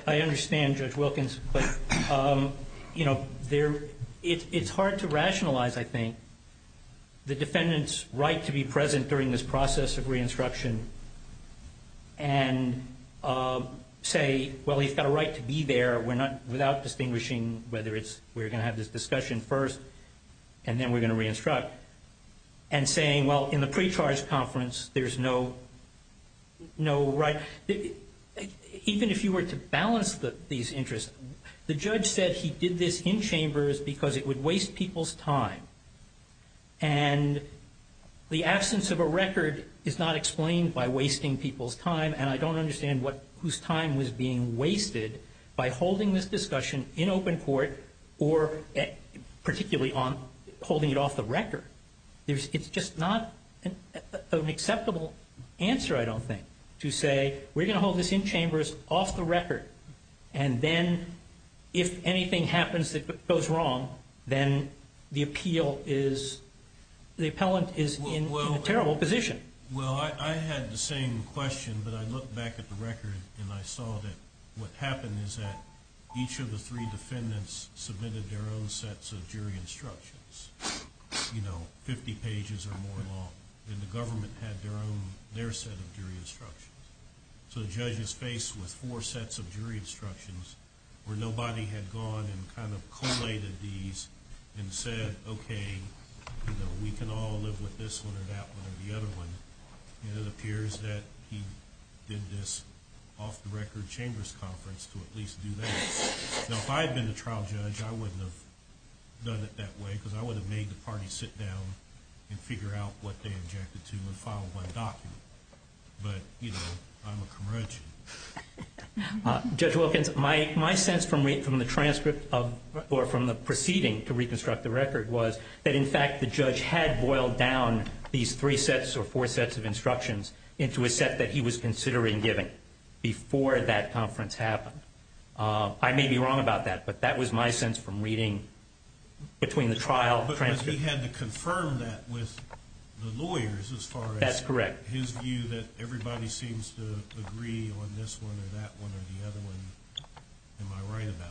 I understand, Judge Wilkins, but it's hard to rationalize, I think, the defendant's right to be present during this process of re-instruction and say, well, he's got a right to be there without distinguishing whether we're going to have this discussion first and then we're going to re-instruct, and saying, well, in the pre-charge conference, there's no right. Even if you were to balance these interests, the judge said he did this in chambers because it would waste people's time. And the absence of a record is not explained by wasting people's time, and I don't understand whose time was being wasted by holding this discussion in open court, or particularly on holding it off the record. It's just not an acceptable answer, I don't think, to say, we're going to hold this in chambers, off the record, and then if anything happens that goes wrong, then the appellant is in a terrible position. Well, I had the same question, but I looked back at the record and I saw that what happened is that each of the three defendants submitted their own sets of jury instructions, you know, 50 pages or more long, and the government had their own, their set of jury instructions. So the judge is faced with four sets of jury instructions where nobody had gone and kind of collated these and said, okay, you know, we can all live with this one or that one or the other one, and it appears that he did this off the record chambers conference to at least do that. Now, if I had been the trial judge, I wouldn't have done it that way, because I would have made the party sit down and figure out what they objected to and follow one document. But, you know, I'm a commercial. Judge Wilkins, my sense from the transcript or from the proceeding to reconstruct the record was that, in fact, the judge had boiled down these three sets or four sets of instructions into a set that he was considering giving before that conference happened. I may be wrong about that, but that was my sense from reading between the trial transcripts. Has he had to confirm that with the lawyers as far as his view that everybody seems to agree on this one or that one or the other one? Am I right about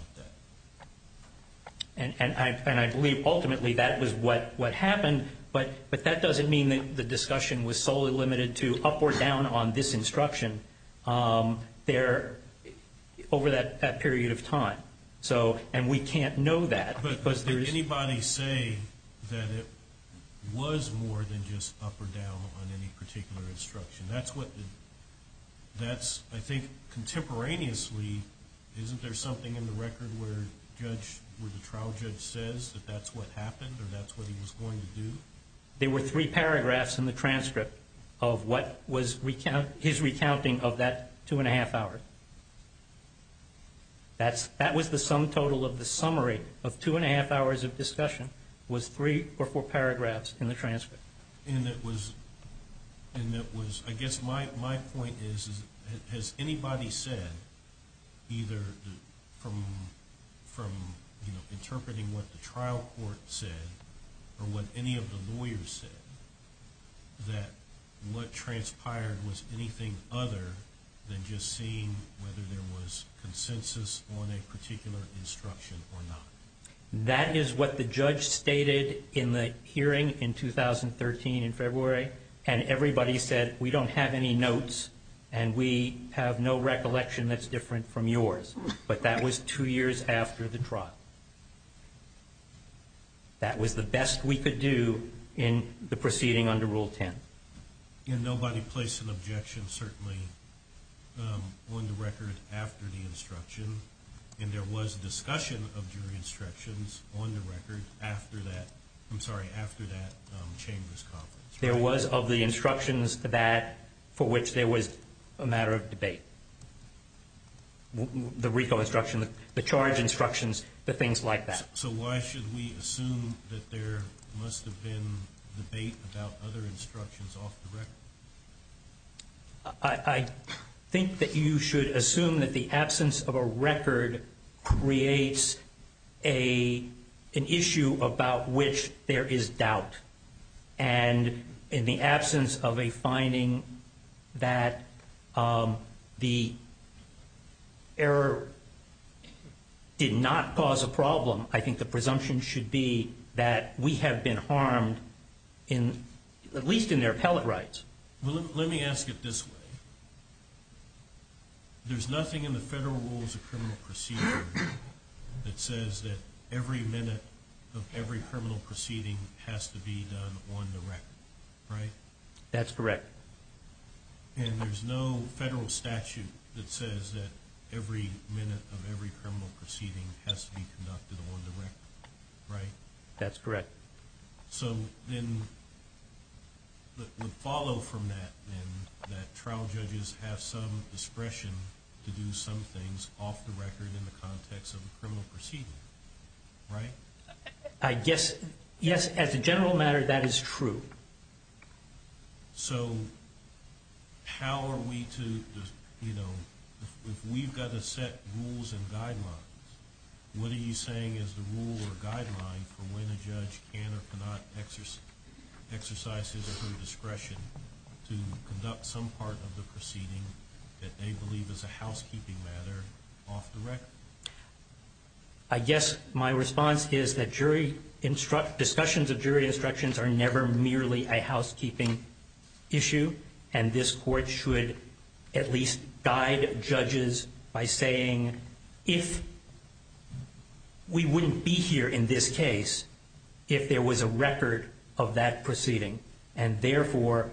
that? And I believe ultimately that is what happened, but that doesn't mean that the discussion was solely limited to up or down on this instruction over that period of time, and we can't know that. But does anybody say that it was more than just up or down on any particular instruction? That's, I think, contemporaneously, isn't there something in the record where the trial judge says that that's what happened or that's what he was going to do? There were three paragraphs in the transcript of what was his recounting of that two and a half hours. That was the sum total of the summary of two and a half hours of discussion was three or four paragraphs in the transcript. And it was, I guess my point is, has anybody said, either from interpreting what the trial court said or what any of the lawyers said, that what transpired was anything other than just seeing whether there was consensus on a particular instruction or not? That is what the judge stated in the hearing in 2013 in February, and everybody said, we don't have any notes and we have no recollection that's different from yours. But that was two years after the trial. That was the best we could do in the proceeding under Rule 10. And nobody placed an objection, certainly, on the record after the instruction, and there was discussion of jury instructions on the record after that. I'm sorry, after that changes. There was of the instructions that for which there was a matter of debate. The recall instruction, the charge instructions, the things like that. So why should we assume that there must have been debate about other instructions off the record? I think that you should assume that the absence of a record creates an issue about which there is doubt. And in the absence of a finding that the error did not cause a problem, I think the presumption should be that we have been harmed, at least in their appellate rights. Let me ask it this way. There's nothing in the Federal Rules of Criminal Proceedings that says that every minute of every criminal proceeding has to be done on the record, right? That's correct. And there's no federal statute that says that every minute of every criminal proceeding has to be conducted on the record, right? That's correct. So then the follow from that is that trial judges have some discretion to do some things off the record in the context of a criminal proceeding, right? I guess, yes, as a general matter, that is true. So how are we to, you know, if we've got to set rules and guidelines, what are you saying is the rule or guideline for when a judge can or cannot exercise his or her discretion to conduct some part of the proceeding that they believe is a housekeeping matter off the record? I guess my response is that jury instructions, discussions of jury instructions are never merely a housekeeping issue, and this court should at least guide judges by saying if we wouldn't be here in this case if there was a record of that proceeding, and therefore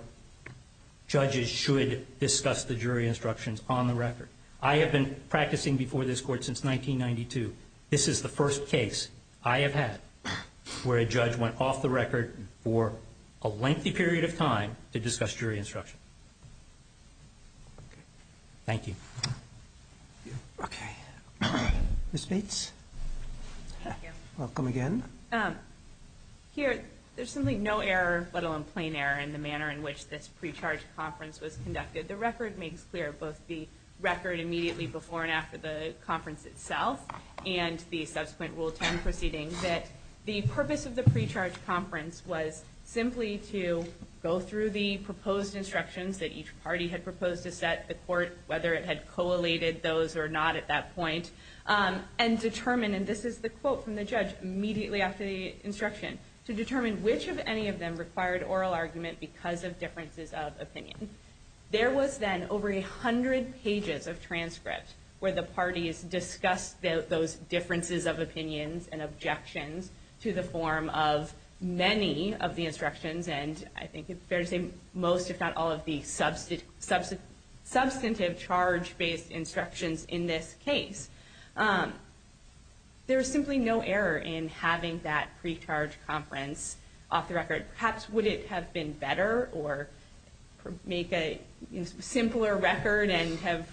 judges should discuss the jury instructions on the record. I have been practicing before this court since 1992. This is the first case I have had where a judge went off the record for a lengthy period of time to discuss jury instruction. Thank you. Okay. Ms. Bates? Thank you. Welcome again. Here, there's really no error, let alone plain error, in the manner in which this pre-charge conference was conducted. The record makes clear, both the record immediately before and after the conference itself and the subsequent rules and proceedings, that the purpose of the pre-charge conference was simply to go through the proposed instructions that each party had proposed to set, the court, whether it had collated those or not at that point, and determine, and this is the quote from the judge immediately after the instruction, to determine which of any of them required oral argument because of differences of opinion. There was then over 100 pages of transcripts where the parties discussed those differences of opinions and objections to the form of many of the instructions, and I think it's fair to say most, if not all, of the substantive charge-based instructions in this case. There is simply no error in having that pre-charge conference off the record. Perhaps would it have been better or make a simpler record and have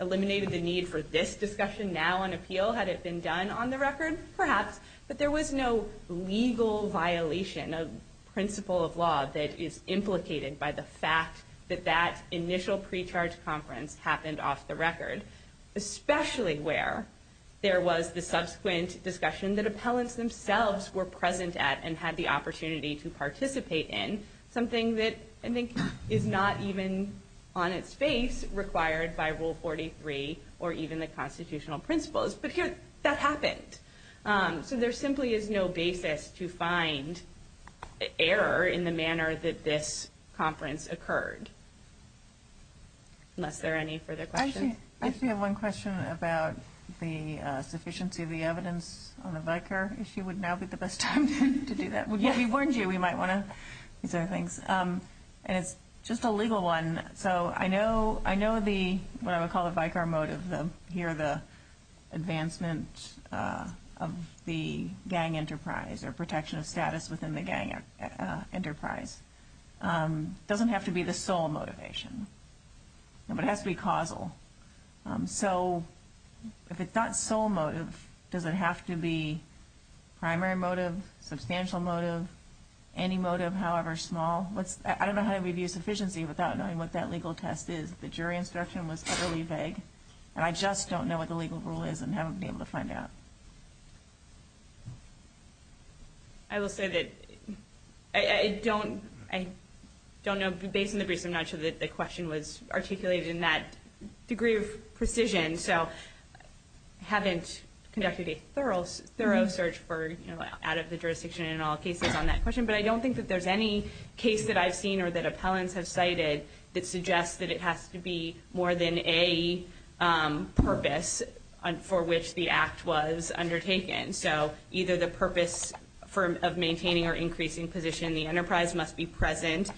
eliminated the need for this discussion now on appeal had it been done on the record? Perhaps. But there was no legal violation of principle of law that is implicated by the fact that that initial pre-charge conference happened off the record, especially where there was the subsequent discussion that appellants themselves were present at and had the opportunity to participate in, something that I think is not even on its face required by Rule 43 or even the constitutional principles. But that happened. So there simply is no basis to find error in the manner that this conference occurred. Unless there are any further questions. I see one question about the sufficiency of the evidence on the VICAR issue would now be the best time to do that. We warned you we might want to do things. It's just a legal one. So I know what I would call the VICAR motives of here the advancement of the gang enterprise or protection of status within the gang enterprise. It doesn't have to be the sole motivation, but it has to be causal. So if it's not sole motive, does it have to be primary motive, substantial motive, any motive, however small? I don't know how to review sufficiency without knowing what that legal test is. The jury instruction was utterly vague. And I just don't know what the legal rule is and haven't been able to find out. I will say that I don't know, based on the brief, I'm not sure that the question was articulated in that degree of precision. So I haven't conducted a thorough search out of the jurisdiction in all cases on that question. But I don't think that there's any case that I've seen or that appellants have cited that suggests that it has to be more than a purpose for which the act was undertaken. So either the purpose of maintaining or increasing position in the enterprise must be present.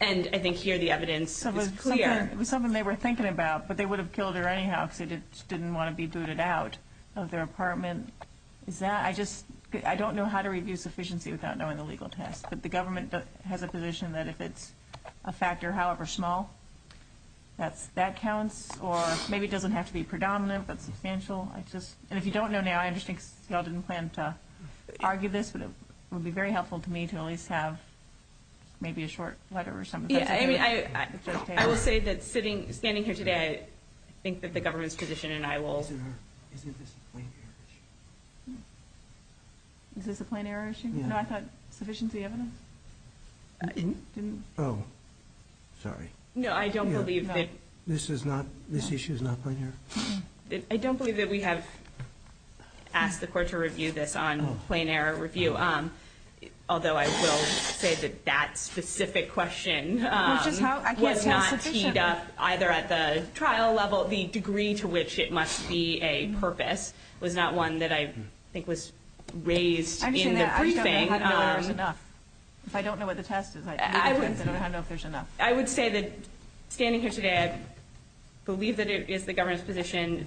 And I think here the evidence is clear. It was something they were thinking about, but they would have killed her anyhow if she didn't want to be booted out of their apartment. I don't know how to review sufficiency without knowing the legal test. But the government has a position that if it's a factor however small, that counts. Or maybe it doesn't have to be predominant, but substantial. And if you don't know now, I understand you all didn't plan to argue this, but it would be very helpful to me to at least have maybe a short letter or something. I would say that standing here today, I think that the government's position and I will... Is this a plain error issue? Is this a plain error issue? No, I thought sufficiency evidence. Oh, sorry. No, I don't believe that... This issue is not plain error. I don't believe that we have asked the court to review this on plain error review. Although I will say that that specific question was not teed up either at the trial level. The degree to which it must be a purpose was not one that I think was raised in the briefing. I don't know if there's enough. If I don't know what the test is, I don't know if there's enough. I would say that standing here today, I believe that it is the government's position,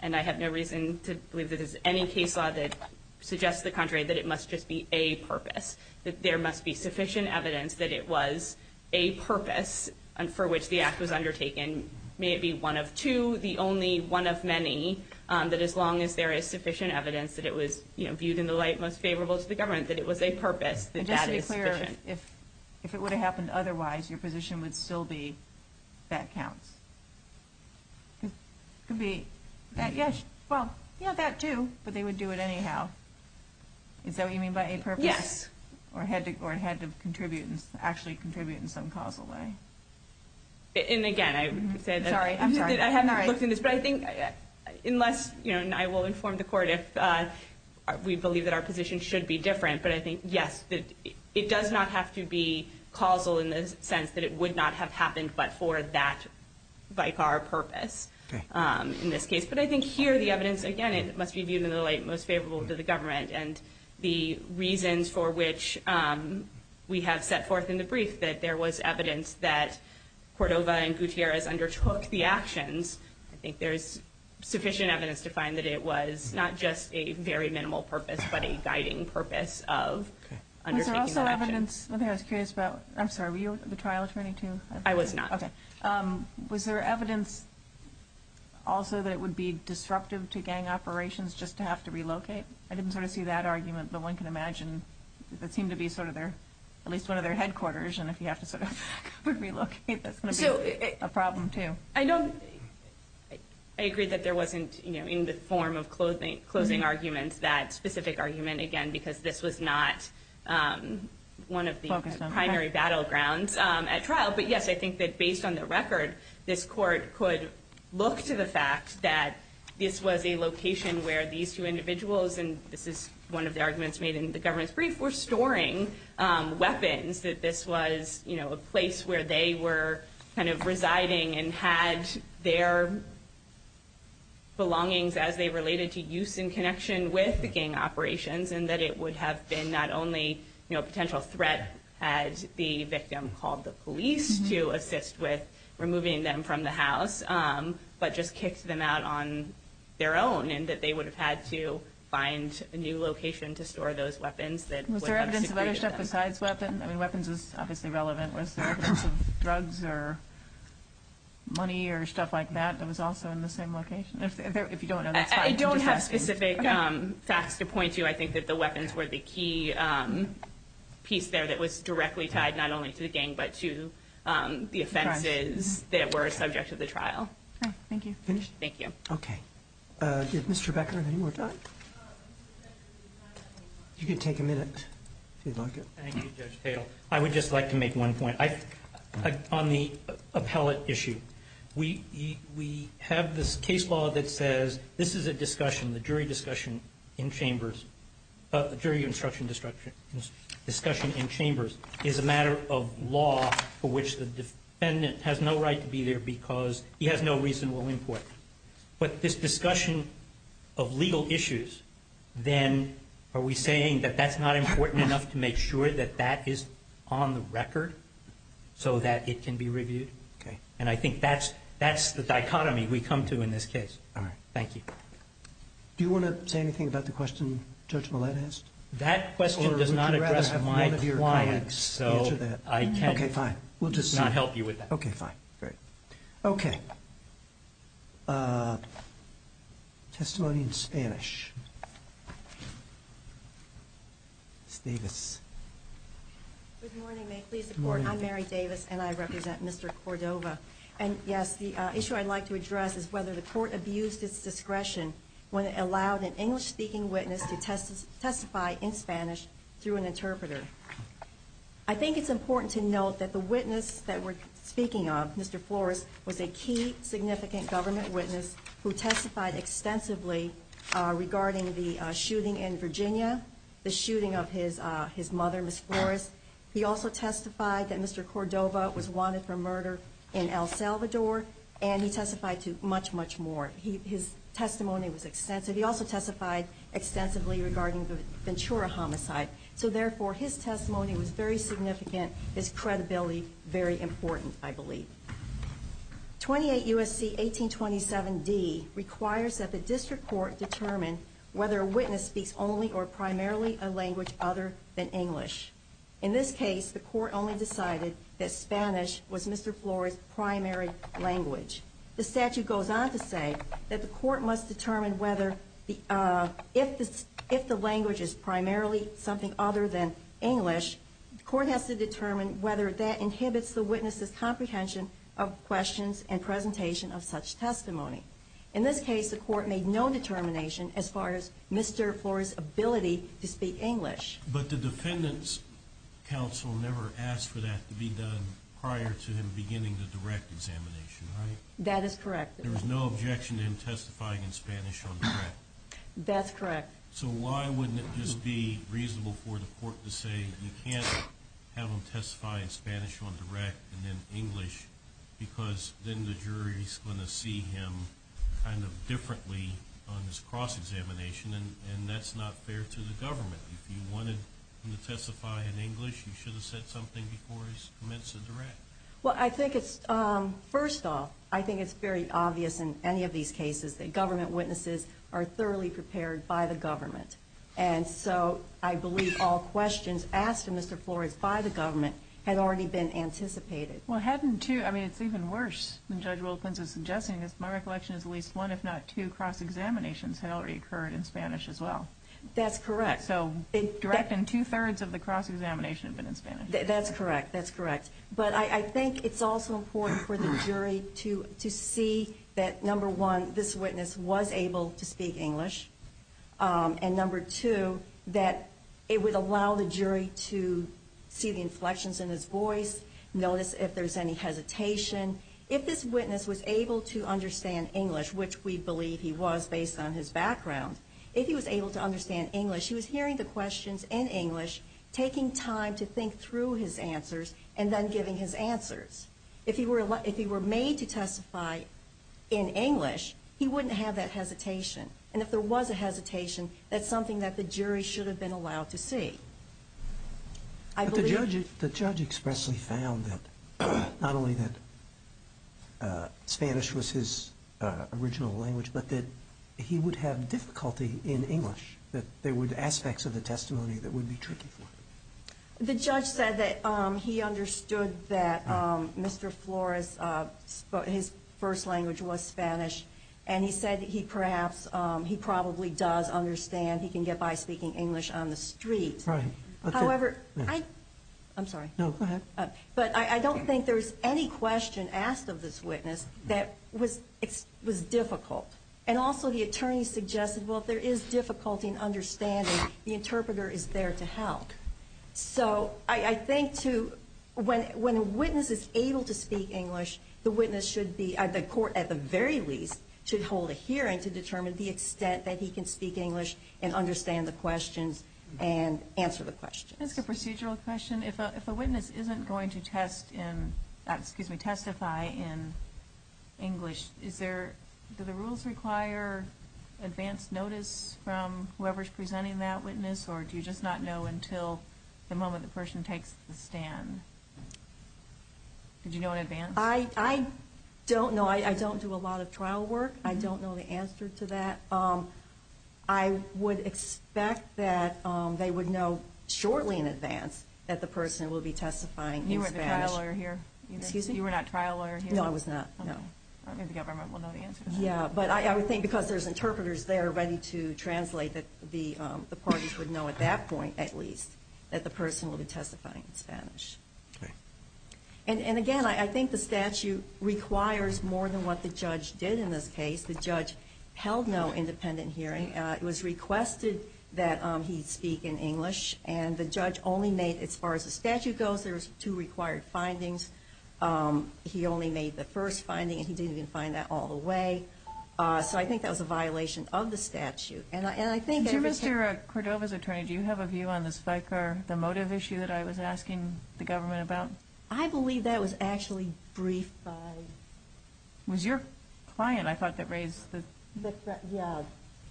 and I have no reason to believe that there's any case law that suggests the contrary, that it must just be a purpose, that there must be sufficient evidence that it was a purpose for which the act was undertaken. May it be one of two, the only one of many, that as long as there is sufficient evidence that it was, you know, viewed in the light most favorable to the government, that it was a purpose, that that is sufficient. If it would have happened otherwise, your position would still be that counts. Yes, well, yeah, that too. But they would do it anyhow. Is that what you mean by a purpose? Yes. Or it had to contribute, actually contribute in some causal way. And again, I said that. Sorry, I'm sorry. I have not looked into this. But I think unless, you know, and I will inform the court if we believe that our position should be different. But I think, yes, it does not have to be causal in the sense that it would not have happened but for that vicar purpose in this case. But I think here the evidence, again, it must be viewed in the light most favorable to the government. And the reasons for which we have set forth in the brief that there was evidence that Cordova and Gutierrez undertook the actions, I think there is sufficient evidence to find that it was not just a very minimal purpose but a guiding purpose of undertaking the actions. Was there also evidence, something I was curious about, I'm sorry, were you the trial attorney too? I was not. Okay. Was there evidence also that it would be disruptive to gang operations just to have to relocate? I didn't sort of see that argument. But one can imagine it seemed to be sort of their, at least one of their headquarters. And if you have to sort of relocate, that's going to be a problem too. I don't, I agree that there wasn't, you know, in this form of closing arguments that specific argument, again, because this was not one of the primary battlegrounds at trial. But, yes, I think that based on the record, this court could look to the fact that this was a location where these two individuals, and this is one of the arguments made in the government's brief, were storing weapons, that this was, you know, a place where they were kind of residing and had their belongings as they related to use in connection with the gang operations, and that it would have been not only, you know, a potential threat as the victim called the police to assist with removing them from the house, but just kicked them out on their own, and that they would have had to find a new location to store those weapons. Was there evidence of other stuff besides weapons? I mean, weapons is obviously relevant with drugs or money or stuff like that. It was also in the same location. I don't have specific facts to point to. I think that the weapons were the key piece there that was directly tied not only to the gang, but to the offenses that were a subject of the trial. Thank you. Finished? Thank you. Okay. Did Mr. Becker have any more thoughts? You can take a minute if you'd like it. Thank you, Judge Cato. I would just like to make one point. On the appellate issue, we have this case law that says this is a discussion, the jury discussion in chambers is a matter of law for which the defendant has no right to be there because he has no reason willing for it. But this discussion of legal issues, then are we saying that that's not important enough to make sure that that is on the record so that it can be reviewed? Okay. And I think that's the dichotomy we come to in this case. All right. Thank you. Do you want to say anything about the question Judge Millett asked? That question does not address my client. Okay, fine. We'll just not help you with that. Okay, fine. Great. Okay. Testimony in Spanish. Good morning. I'm Mary Davis, and I represent Mr. Cordova. And yes, the issue I'd like to address is whether the court abused its discretion when it allowed an English-speaking witness to testify in Spanish through an interpreter. I think it's important to note that the witness that we're speaking of, Mr. Flores, was a key significant government witness who testified extensively regarding the shooting in Virginia, the shooting of his mother, Ms. Flores. He also testified that Mr. Cordova was wanted for murder in El Salvador, and he testified to much, much more. His testimony was extensive. He also testified extensively regarding the Ventura homicide. So, therefore, his testimony was very significant. It's credibility very important, I believe. 28 U.S.C. 1827d requires that the district court determine whether a witness speaks only or primarily a language other than English. In this case, the court only decided that Spanish was Mr. Flores' primary language. The statute goes on to say that the court must determine whether, if the language is primarily something other than English, the court has to determine whether that inhibits the witness's comprehension of questions and presentation of such testimony. In this case, the court made no determination as far as Mr. Flores' ability to speak English. But the defendant's counsel never asked for that to be done prior to him beginning the direct examination, right? That is correct. There was no objection to him testifying in Spanish on the record? That's correct. So why wouldn't it just be reasonable for the court to say you can't have him testify in Spanish on direct and in English because then the jury is going to see him kind of differently on this cross-examination, and that's not fair to the government. If you wanted him to testify in English, you should have said something before he commits a direct. Well, I think it's, first off, I think it's very obvious in any of these cases that government witnesses are thoroughly prepared by the government. And so I believe all questions asked of Mr. Flores by the government had already been anticipated. Well, hadn't two? I mean, it's even worse than Judge Wilkins was suggesting. My recollection is at least one, if not two, cross-examinations had already occurred in Spanish as well. That's correct. So direct and two-thirds of the cross-examination had been in Spanish. That's correct. But I think it's also important for the jury to see that, number one, this witness was able to speak English, and, number two, that it would allow the jury to see the inflections in his voice, notice if there's any hesitation. If this witness was able to understand English, which we believe he was based on his background, if he was able to understand English, he was hearing the questions in English, taking time to think through his answers and then giving his answers. If he were made to testify in English, he wouldn't have that hesitation. And if there was a hesitation, that's something that the jury should have been allowed to see. But the judge expressly found that not only that Spanish was his original language, but that he would have difficulty in English, that there were aspects of the testimony that would be tricky for him. The judge said that he understood that Mr. Flores, his first language was Spanish, and he said that he perhaps, he probably does understand. He can get by speaking English on the street. Right. However, I'm sorry. No, go ahead. But I don't think there was any question asked of this witness that was difficult. And also the attorney suggested, well, if there is difficulty in understanding, the interpreter is there to help. So I think when a witness is able to speak English, the witness should be at the court at the very least to hold a hearing to determine the extent that he can speak English and understand the questions and answer the questions. Just a procedural question. If a witness isn't going to test in, excuse me, testify in English, do the rules require advance notice from whoever is presenting that witness, or do you just not know until the moment the person takes the stand? Do you know in advance? I don't know. I don't do a lot of trial work. I don't know the answer to that. I would expect that they would know shortly in advance that the person will be testifying in Spanish. You were the trial lawyer here. Excuse me? You were not trial lawyer here. No, I was not, no. I think the government will know the answer. Yeah, but I would think because there's interpreters there ready to translate, that the parties would know at that point at least that the person will be testifying in Spanish. Right. And, again, I think the statute requires more than what the judge did in this case. The judge held no independent hearing. It was requested that he speak in English, and the judge only made, as far as the statute goes, there was two required findings. He only made the first finding, and he didn't even find that all the way. So I think that was a violation of the statute. And I think there was a – Do you know if you're a Cordova's attorney, do you have a view on the psych or the motive issue that I was asking the government about? I believe that was actually briefed by – It was your client, I thought, that raised this. Yeah.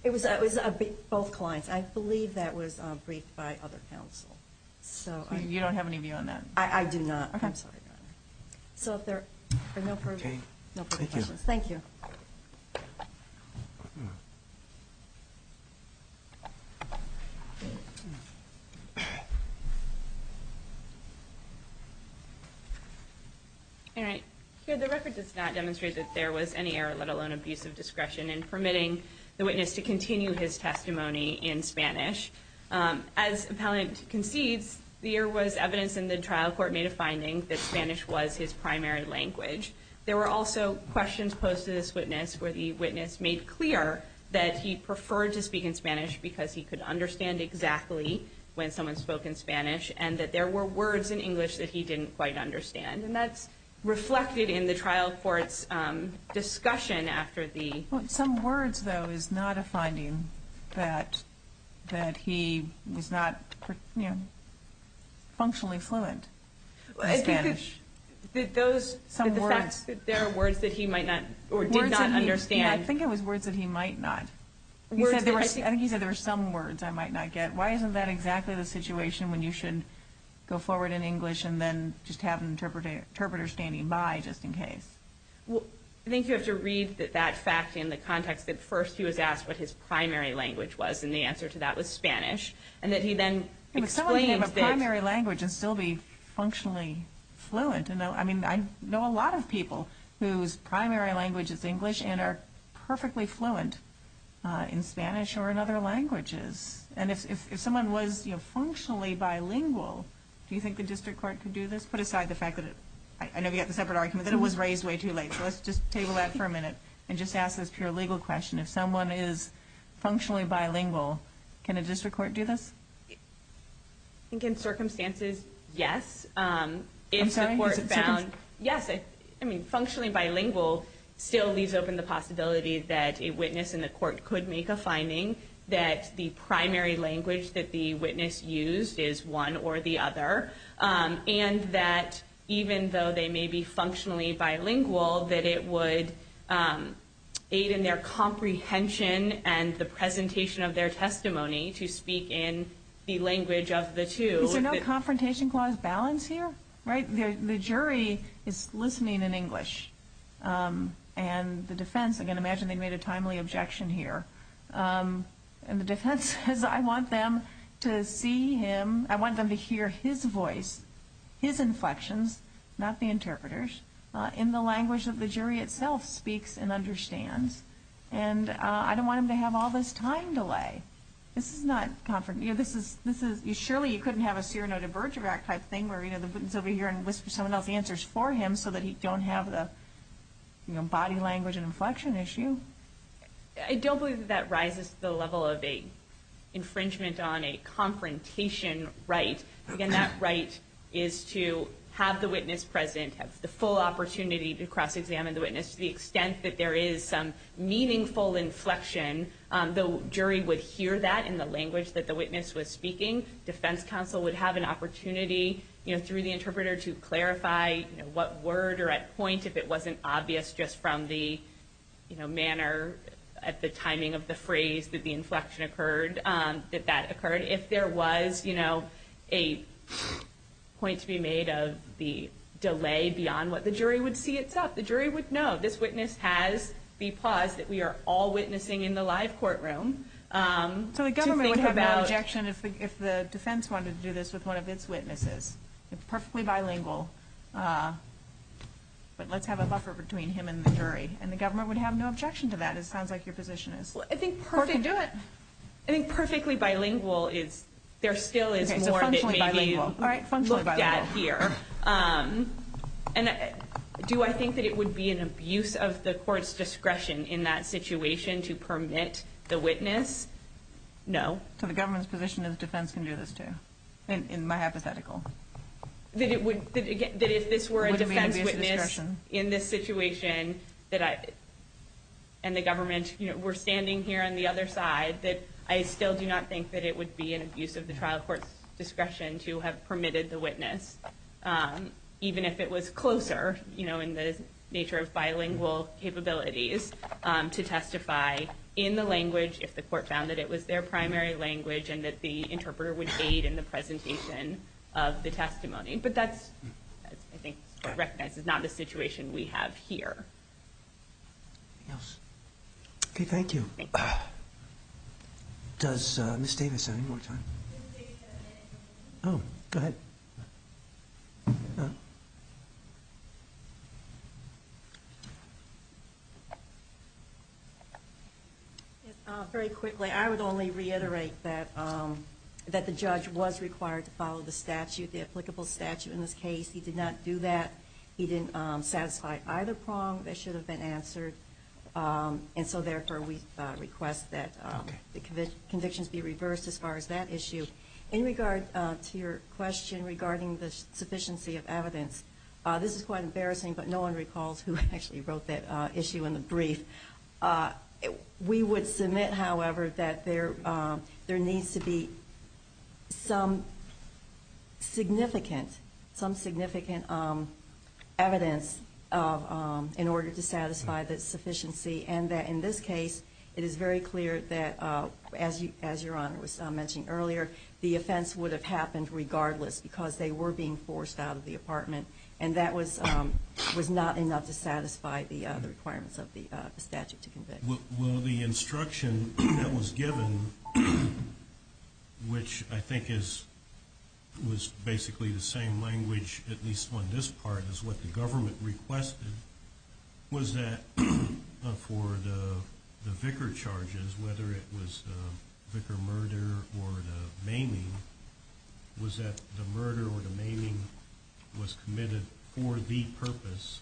It was both clients. I believe that was briefed by other counsel. You don't have any view on that? I do not. Okay. So if there are no further questions. Thank you. All right. So the record does not demonstrate that there was any error, let alone abuse of discretion, in permitting the witness to continue his testimony in Spanish. As appellant concedes, the error was evidence in the trial court made a finding that Spanish was his primary language. The witness made clear that he preferred to speak in Spanish because he could understand exactly when someone spoke in Spanish, and that there were words in English that he didn't quite understand. And that's reflected in the trial court's discussion after the – Some words, though, is not a finding that he was not, you know, functionally fluent in Spanish. Did those – Some words. Were there words that he might not – or did not understand? I think it was words that he might not. I think he said there were some words I might not get. Why isn't that exactly the situation when you should go forward in English and then just have an interpreter standing by just in case? Well, I think you have to read that fact in the context that first he was asked what his primary language was, and the answer to that was Spanish, and that he then explained that – I mean, I know a lot of people whose primary language is English and are perfectly fluent in Spanish or in other languages. And if someone was, you know, functionally bilingual, do you think the district court could do this? Put aside the fact that – I know you have a separate argument, but it was raised way too late. So let's just table that for a minute and just ask this pure legal question. If someone is functionally bilingual, can a district court do this? I think in circumstances, yes. I'm sorry? I mean, functionally bilingual still leaves open the possibility that a witness in the court could make a finding that the primary language that the witness used is one or the other, and that even though they may be functionally bilingual, that it would aid in their comprehension and the presentation of their testimony to speak in the language of the two. Is there no confrontation clause balance here? The jury is listening in English, and the defense – again, imagine they made a timely objection here. And the defense says, I want them to see him – I want them to hear his voice, his inflections, not the interpreter's, in the language that the jury itself speaks and understands. And I don't want him to have all this time delay. Okay. This is not – this is – surely you couldn't have a serenade of Bergerac type thing where the witness would be here and listen to someone else's answers for him so that he don't have the body language and inflection issue. I don't believe that that rises to the level of an infringement on a confrontation right. Again, that right is to have the witness present, have the full opportunity to cross-examine the witness to the extent that there is some meaningful inflection. The jury would hear that in the language that the witness was speaking. Defense counsel would have an opportunity through the interpreter to clarify what word or at point, if it wasn't obvious just from the manner, the timing of the phrase that the inflection occurred, that that occurred. If there was a point to be made of the delay beyond what the jury would see itself, the jury would know this witness has – because we are all witnessing in the live courtroom. So the government would have no objection if the defense wanted to do this with one of its witnesses. It's perfectly bilingual. But let's have a buffer between him and the jury. And the government would have no objection to that. It sounds like your position is. I think perfectly bilingual is – there still is more that may be looked at here. And do I think that it would be an abuse of the court's discretion in that situation to permit the witness? No. So the government's position is defense can do this too, in my hypothetical. That if this were a defense witness in this situation and the government were standing here on the other side, I still do not think that it would be an abuse of the trial court's discretion to have permitted the witness, even if it was closer in the nature of bilingual capabilities to testify in the language if the court found that it was their primary language and that the interpreter would aid in the presentation of the testimony. But that, I think, is not a situation we have here. Anything else? Okay, thank you. Thank you. Does Ms. Davis have any more questions? Ms. Davis has a question. Oh, go ahead. Very quickly, I would only reiterate that the judge was required to follow the statute, the applicable statute in this case. He did not do that. He didn't satisfy either prong that should have been answered, and so therefore we request that the convictions be reversed as far as that issue. In regard to your question regarding the sufficiency of evidence, this is quite embarrassing, but no one recalls who actually wrote that issue in the brief. We would submit, however, that there needs to be some significant evidence in order to satisfy the sufficiency, and that in this case it is very clear that, as Your Honor was mentioning earlier, the offense would have happened regardless because they were being forced out of the apartment, and that was not enough to satisfy the requirements of the statute to convict. Well, the instruction that was given, which I think was basically the same language, at least on this part, as what the government requested was that for the Vicar charges, whether it was the Vicar murder or the maiming, was that the murder or the maiming was committed for the purpose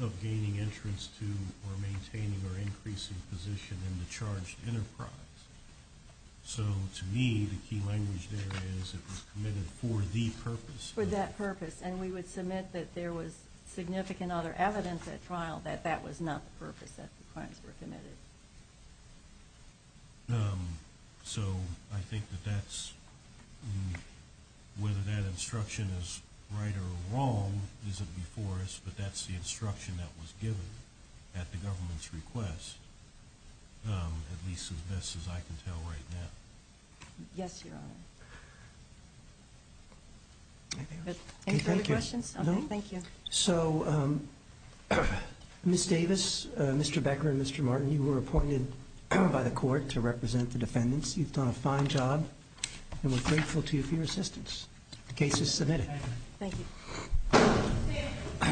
of gaining entrance to or maintaining or increasing position in the charged enterprise. So, to me, the key language there is that it was committed for the purpose. For that purpose, and we would submit that there was significant other evidence at trial that that was not the purpose that the claims were committed. So, I think that that's, whether that instruction is right or wrong isn't before us, but that's the instruction that was given at the government's request, at least as I can tell right now. Yes, Your Honor. Any further questions? Okay, thank you. So, Ms. Davis, Mr. Beckler, and Mr. Martin, you were appointed by the court to represent the defendants. You've done a fine job, and we're grateful to you for your assistance. The case is submitted. Thank you.